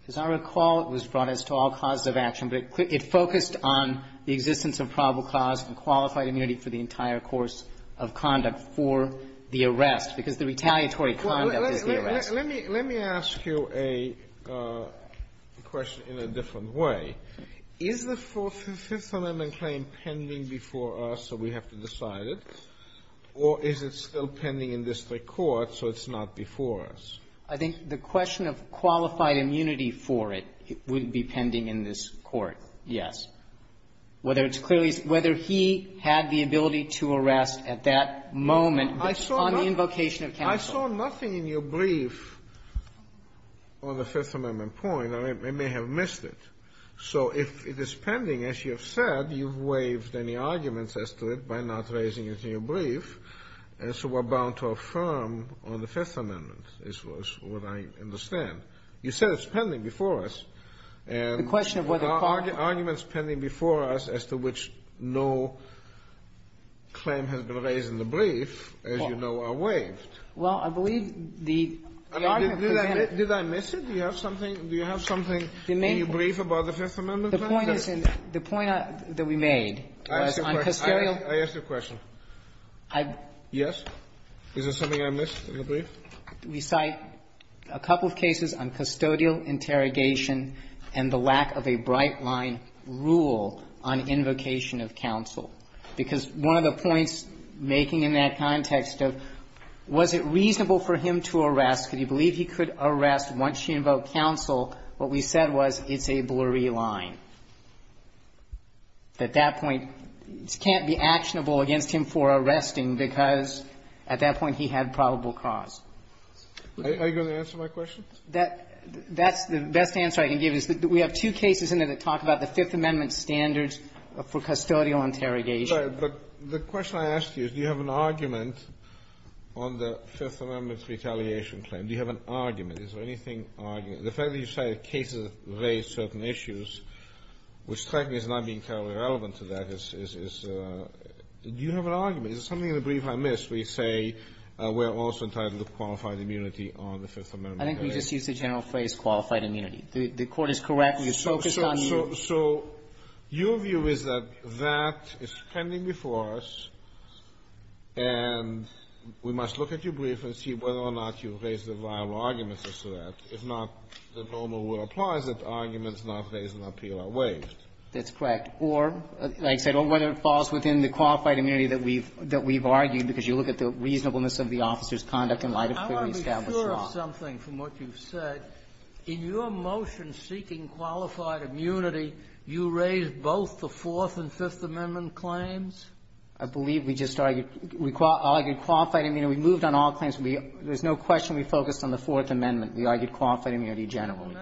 As I recall, it was brought as to all causes of action, but it focused on the existence of probable cause and qualified immunity for the entire course of conduct for the arrest, because the retaliatory conduct is the arrest. Let me ask you a question in a different way. Is the Fifth Amendment claim pending before us, so we have to decide it? Or is it still pending in district court, so it's not before us? I think the question of qualified immunity for it would be pending in this court, yes. Whether it's clearly he had the ability to arrest at that moment on the invocation of counsel. I saw nothing in your brief on the Fifth Amendment point, and I may have missed it. So if it is pending, as you have said, you've waived any arguments as to it by not raising it in your brief, and so we're bound to affirm on the Fifth Amendment, is what I understand. You said it's pending before us. The question of whether qualified immunity. Arguments pending before us as to which no claim has been raised in the brief, as you know, are waived. Well, I believe the argument presented by the Fifth Amendment is not waived. Did I miss it? Do you have something in your brief about the Fifth Amendment claim? The point is in the point that we made was on custodial — I asked you a question. Yes? Is there something I missed in the brief? We cite a couple of cases on custodial interrogation and the lack of a bright-line rule on invocation of counsel, because one of the points making in that context of was it reasonable for him to arrest, could he believe he could arrest once she invoked counsel, what we said was it's a blurry line. At that point, it can't be actionable against him for arresting, because at that point he had probable cause. Are you going to answer my question? That's the best answer I can give is that we have two cases in there that talk about the Fifth Amendment standards for custodial interrogation. I'm sorry, but the question I asked you is do you have an argument on the Fifth Amendment's retaliation claim? Do you have an argument? Is there anything — the fact that you cite cases that raise certain issues, which, frankly, is not being terribly relevant to that, is — do you have an argument? Is there something in the brief I missed where you say we're also entitled to qualified immunity on the Fifth Amendment? I think we just used the general phrase, qualified immunity. The Court is correct. We are focused on you. So your view is that that is pending before us, and we must look at your brief and see whether or not you've raised a viable argument as to that. If not, the normal rule applies that arguments not raised in appeal are waived. That's correct. Or, like I said, whether it falls within the qualified immunity that we've — that we've argued, because you look at the reasonableness of the officer's conduct in light of clearly established law. Let me ask you something from what you've said. In your motion seeking qualified immunity, you raised both the Fourth and Fifth Amendment claims? I believe we just argued — argued qualified immunity. We moved on all claims. We — there's no question we focused on the Fourth Amendment. We argued qualified immunity generally.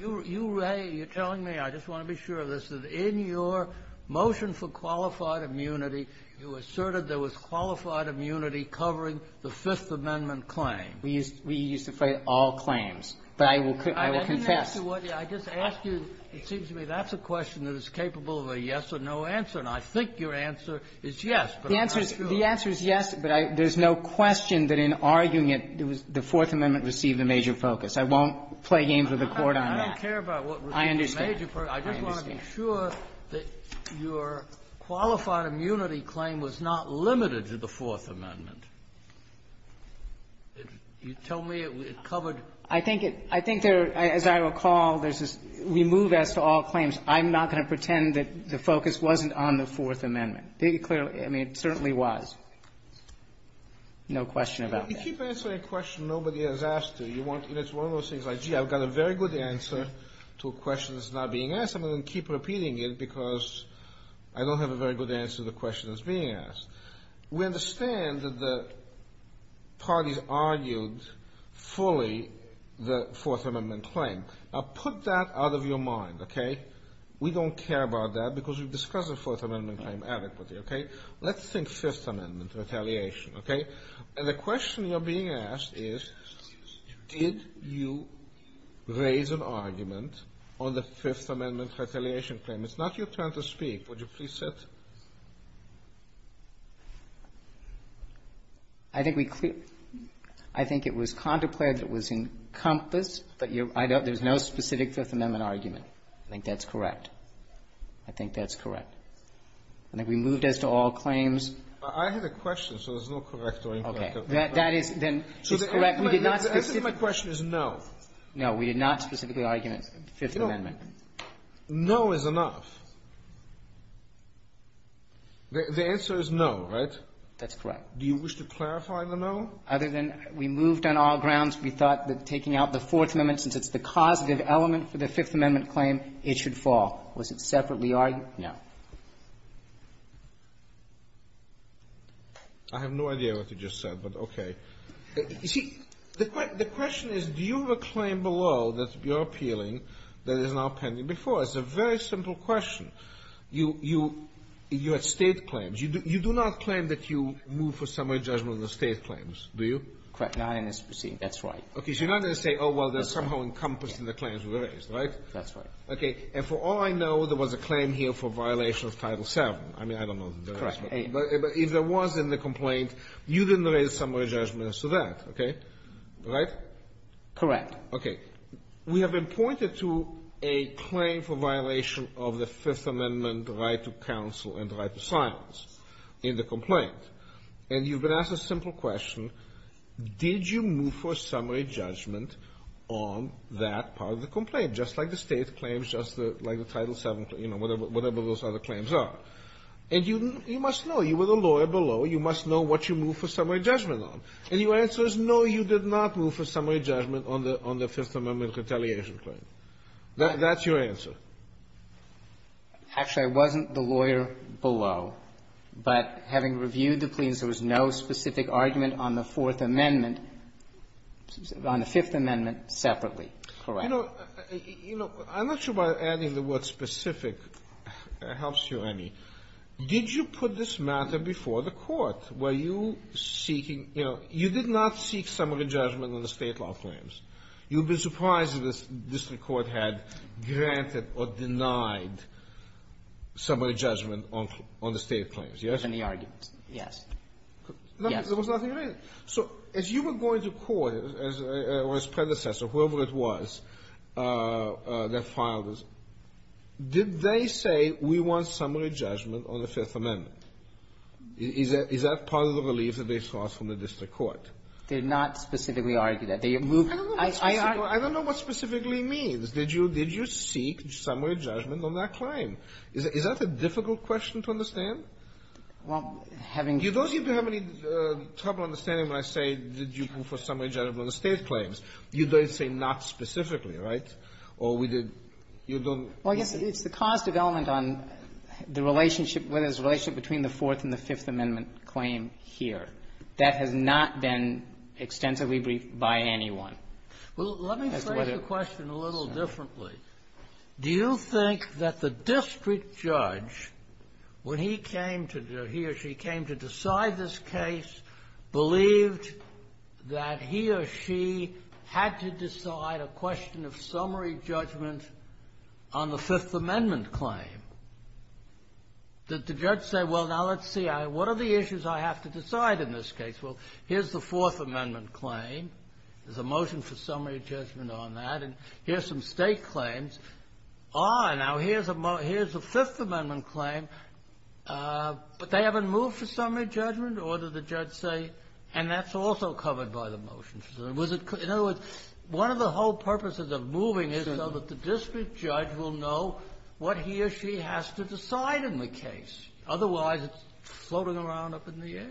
You raised — you're telling me, I just want to be sure of this, that in your motion for qualified immunity, you asserted there was qualified immunity covering the Fifth Amendment claim. We used — we used to play all claims. But I will — I will confess. I didn't ask you what — I just asked you — it seems to me that's a question that is capable of a yes or no answer. And I think your answer is yes, but I'm not sure. The answer is — the answer is yes, but I — there's no question that in arguing it, it was — the Fourth Amendment received a major focus. I won't play games with the Court on that. I don't care about what received a major focus. I just want to be sure that your qualified immunity claim was not limited to the Fourth Amendment. You tell me it covered — I think it — I think there — as I recall, there's this — we move as to all claims. I'm not going to pretend that the focus wasn't on the Fourth Amendment. It clearly — I mean, it certainly was. No question about that. You keep answering a question nobody has asked you. You want — it's one of those things like, gee, I've got a very good answer to a question that's not being asked. I'm going to keep repeating it because I don't have a very good answer to the question that's being asked. We understand that the parties argued fully the Fourth Amendment claim. Now, put that out of your mind, okay? We don't care about that because we've discussed the Fourth Amendment claim adequately, okay? Let's think Fifth Amendment retaliation, okay? And the question you're being asked is, did you raise an argument on the Fifth Amendment retaliation claim? It's not your turn to speak. Would you please sit? I think we — I think it was contemplated that it was encompassed, but you — I don't — there's no specific Fifth Amendment argument. I think that's correct. I think that's correct. I think we moved as to all claims. I had a question, so it's not correct or incorrect. Okay. That is — then it's correct. We did not specifically — The answer to my question is no. No. We did not specifically argument Fifth Amendment. No is enough. The answer is no, right? That's correct. Do you wish to clarify the no? Other than we moved on all grounds, we thought that taking out the Fourth Amendment, since it's the causative element for the Fifth Amendment claim, it should fall. Was it separately argued? No. I have no idea what you just said, but okay. You see, the question is, do you have a claim below that you're appealing that is now pending before us? It's a very simple question. You — you — you had State claims. You do not claim that you moved for summary judgment of the State claims, do you? Correct. Not in this proceeding. That's right. Okay. So you're not going to say, oh, well, they're somehow encompassed in the claims we raised, right? That's right. Okay. And for all I know, there was a claim here for violation of Title VII. I mean, I don't know if there was. But if there was in the complaint, you didn't raise summary judgment as to that, okay? Right? Correct. Okay. We have been pointed to a claim for violation of the Fifth Amendment right to counsel and right to silence in the complaint. And you've been asked a simple question. Did you move for summary judgment on that part of the complaint, just like the State claims, just like the Title VII, you know, whatever those other claims are? And you must know. You were the lawyer below. You must know what you moved for summary judgment on. And your answer is no, you did not move for summary judgment on the Fifth Amendment retaliation claim. That's your answer. Actually, I wasn't the lawyer below. But having reviewed the plaintiffs, there was no specific argument on the Fourth Amendment — on the Fifth Amendment separately. Correct. You know, I'm not sure whether adding the word specific helps you any. Did you put this matter before the Court? Were you seeking — you know, you did not seek summary judgment on the State law claims. You'd be surprised if the district court had granted or denied summary judgment on the State claims. Yes? There was no argument. Yes. There was nothing written. So as you were going to court, or its predecessor, whoever it was that filed this, did they say, we want summary judgment on the Fifth Amendment? Is that part of the relief that they sought from the district court? They did not specifically argue that. They moved — I don't know what specifically means. Did you seek summary judgment on that claim? Is that a difficult question to understand? Well, having — You don't seem to have any trouble understanding when I say, did you move for summary judgment on the State claims. You don't say not specifically, right? Or we did — you don't — Well, I guess it's the cause development on the relationship, whether it's a relationship between the Fourth and the Fifth Amendment claim here. That has not been extensively briefed by anyone. Well, let me phrase the question a little differently. Do you think that the district judge, when he came to — he or she came to decide this case, believed that he or she had to decide a question of summary judgment on the Fifth Amendment claim? Did the judge say, well, now, let's see, what are the issues I have to decide in this case? Well, here's the Fourth Amendment claim. There's a motion for summary judgment on that. And here's some State claims. Ah, now, here's a — here's a Fifth Amendment claim, but they haven't moved for summary judgment, or did the judge say — and that's also covered by the motion. Was it — in other words, one of the whole purposes of moving is so that the district judge will know what he or she has to decide in the case. Otherwise, it's floating around up in the air.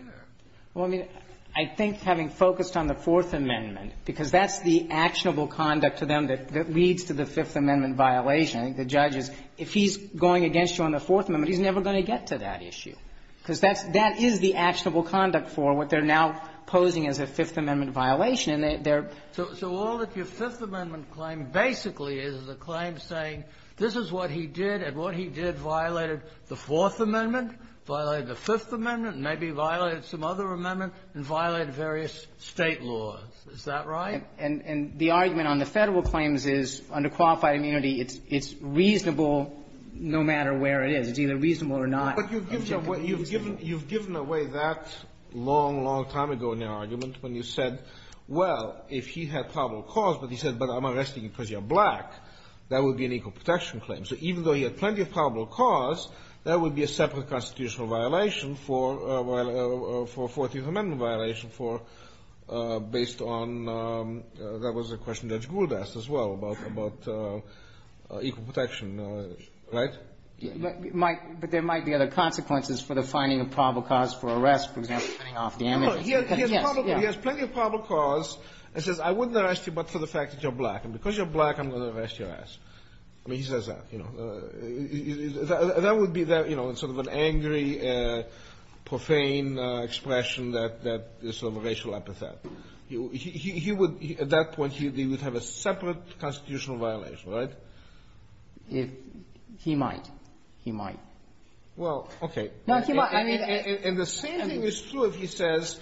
Well, I mean, I think having focused on the Fourth Amendment, because that's the actionable conduct to them that leads to the Fifth Amendment violation, I think the judge is, if he's going against you on the Fourth Amendment, he's never going to get to that issue, because that's — that is the actionable conduct for what they're now posing as a Fifth Amendment violation, and they're — So all that your Fifth Amendment claim basically is is a claim saying, this is what he did, and what he did violated the Fourth Amendment, violated the Fifth Amendment, maybe violated some other amendment, and violated various State laws. Is that right? And the argument on the Federal claims is, under qualified immunity, it's reasonable no matter where it is. It's either reasonable or not. But you've given away that long, long time ago in your argument when you said, well, if he had probable cause, but he said, but I'm arresting you because you're black, that would be an equal protection claim. So even though he had plenty of probable cause, that would be a separate constitutional violation for — for a Fourth Amendment violation for — based on — that was a question Judge Gould asked as well about — about equal protection, right? But there might be other consequences for the finding of probable cause for arrest, for example, cutting off damages. No, he has — he has probable — he has plenty of probable cause and says, I wouldn't arrest you but for the fact that you're black. And because you're black, I'm going to arrest your ass. I mean, he says that, you know. That would be, you know, sort of an angry, profane expression that — that is sort of a racial epithet. He would — at that point, he would have a separate constitutional violation, right? If he might. He might. Well, okay. No, he might. And the same thing is true if he says,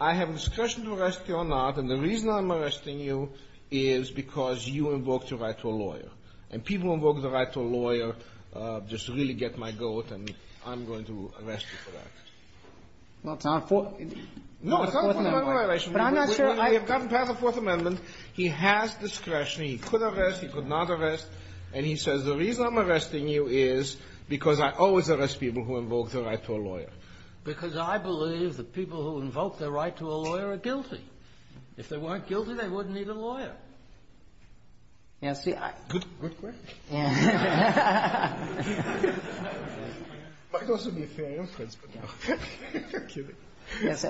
I have discretion to arrest you or not. And the reason I'm arresting you is because you invoked your right to a lawyer. And people who invoke the right to a lawyer just really get my goat, and I'm going to arrest you for that. Well, it's not a — No, it's not a Fourth Amendment violation. But I'm not sure I — We have gotten past the Fourth Amendment. He has discretion. He could arrest. He could not arrest. And he says, the reason I'm arresting you is because I always arrest people who invoke their right to a lawyer. Because I believe that people who invoke their right to a lawyer are guilty. If they weren't guilty, they wouldn't need a lawyer. Now, see, I — Good — good question. Might also be a fair inference, but no. I'm kidding.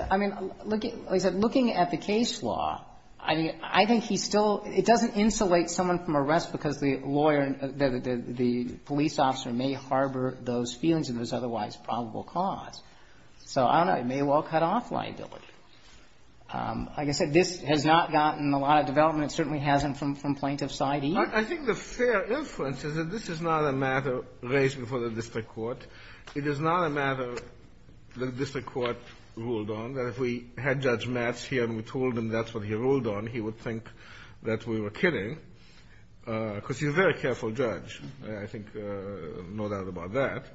I mean, looking — like I said, looking at the case law, I mean, I think he still — it doesn't insulate someone from arrest because the lawyer — the police officer may harbor those feelings and those otherwise probable cause. So I don't know. It may well cut off liability. Like I said, this has not gotten a lot of development. It certainly hasn't from plaintiff's side either. I think the fair inference is that this is not a matter raised before the district court. It is not a matter that the district court ruled on, that if we had Judge Matz here and we told him that's what he ruled on, he would think that we were kidding, because he's a very careful judge. I think no doubt about that.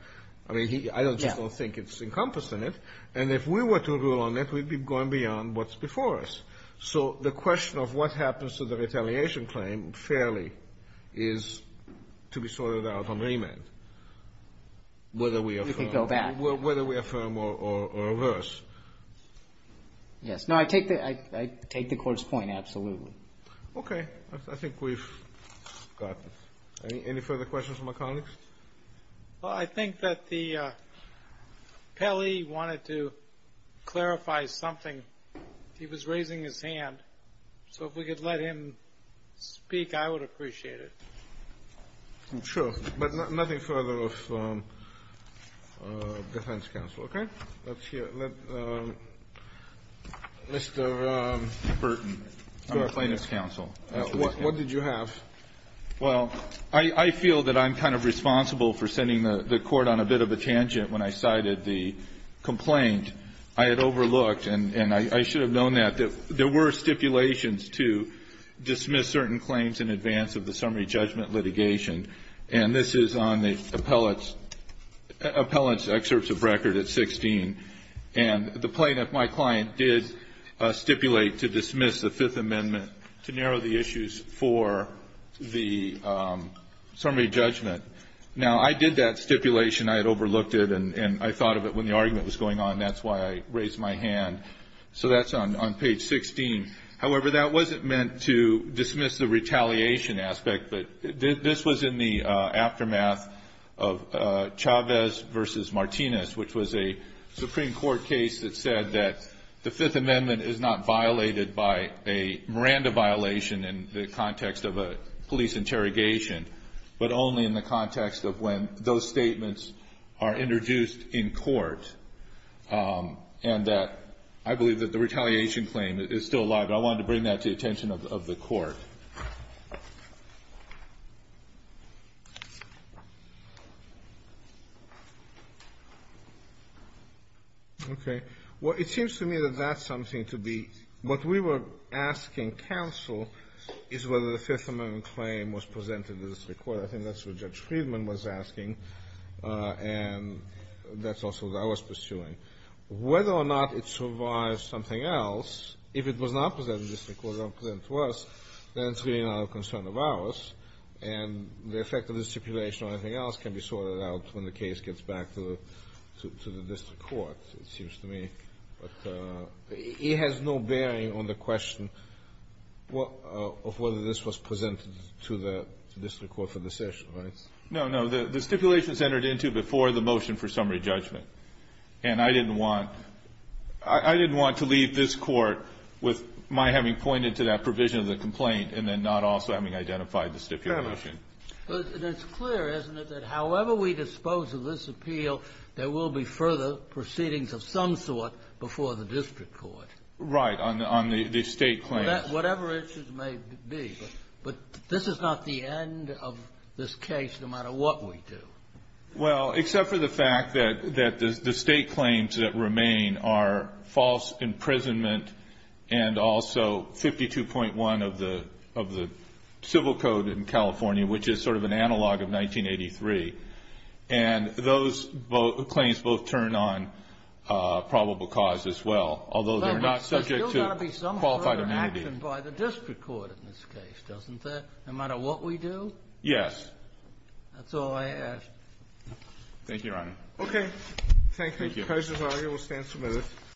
I mean, he — I just don't think it's encompassed in it. And if we were to rule on it, we'd be going beyond what's before us. So the question of what happens to the retaliation claim fairly is to be sorted out on remand, whether we affirm — We could go back. Whether we affirm or reverse. Yes. No, I take the — I take the Court's point, absolutely. Okay. I think we've got it. Any further questions from my colleagues? Well, I think that the — Pelley wanted to clarify something. He was raising his hand. So if we could let him speak, I would appreciate it. Sure. But nothing further of defense counsel. Okay? Let's hear — let Mr. Burton, plaintiff's counsel. What did you have? Well, I feel that I'm kind of responsible for sending the Court on a bit of a tangent when I cited the complaint. I had overlooked, and I should have known that, that there were stipulations to dismiss certain claims in advance of the summary judgment litigation. And this is on the appellate's excerpts of record at 16. And the plaintiff, my client, did stipulate to dismiss the Fifth Amendment to narrow the issues for the summary judgment. Now, I did that stipulation. I had overlooked it, and I thought of it when the argument was going on. That's why I raised my hand. So that's on page 16. However, that wasn't meant to dismiss the retaliation aspect, but this was in the aftermath of Chavez versus Martinez, which was a Supreme Court case that said that the Fifth Amendment is not violated by a Miranda violation in the context of a police interrogation, but only in the context of when those statements are introduced in court. And that — I believe that the retaliation claim is still alive, but I wanted to bring that to the attention of the Court. Okay. Well, it seems to me that that's something to be — what we were asking counsel is whether the Fifth Amendment claim was presented to the district court. I think that's what Judge Friedman was asking, and that's also what I was pursuing. Whether or not it survives something else, if it was not presented to the district court, not presented to us, then it's really not a concern of ours. And the effect of the stipulation or anything else can be sorted out when the case gets back to the — to the district court, it seems to me. But it has no bearing on the question of whether this was presented to the district court for the session, right? No, no. The stipulation is entered into before the motion for summary judgment. And I didn't want — I didn't want to leave this Court with my having pointed to that provision of the complaint and then not also having identified the stipulation. Fair enough. It's clear, isn't it, that however we dispose of this appeal, there will be further proceedings of some sort before the district court? Right, on the — on the State claims. Whatever it may be. But this is not the end of this case, no matter what we do. Well, except for the fact that the State claims that remain are false imprisonment and also 52.1 of the — of the civil code in California, which is sort of an analog of 1983. And those claims both turn on probable cause as well, although they're not subject to qualified amnesty. But there's still got to be some sort of action by the district court in this case, doesn't there? No matter what we do? Yes. That's all I ask. Thank you, Your Honor. Okay. Thank you. The case is argued. We'll stand for a minute.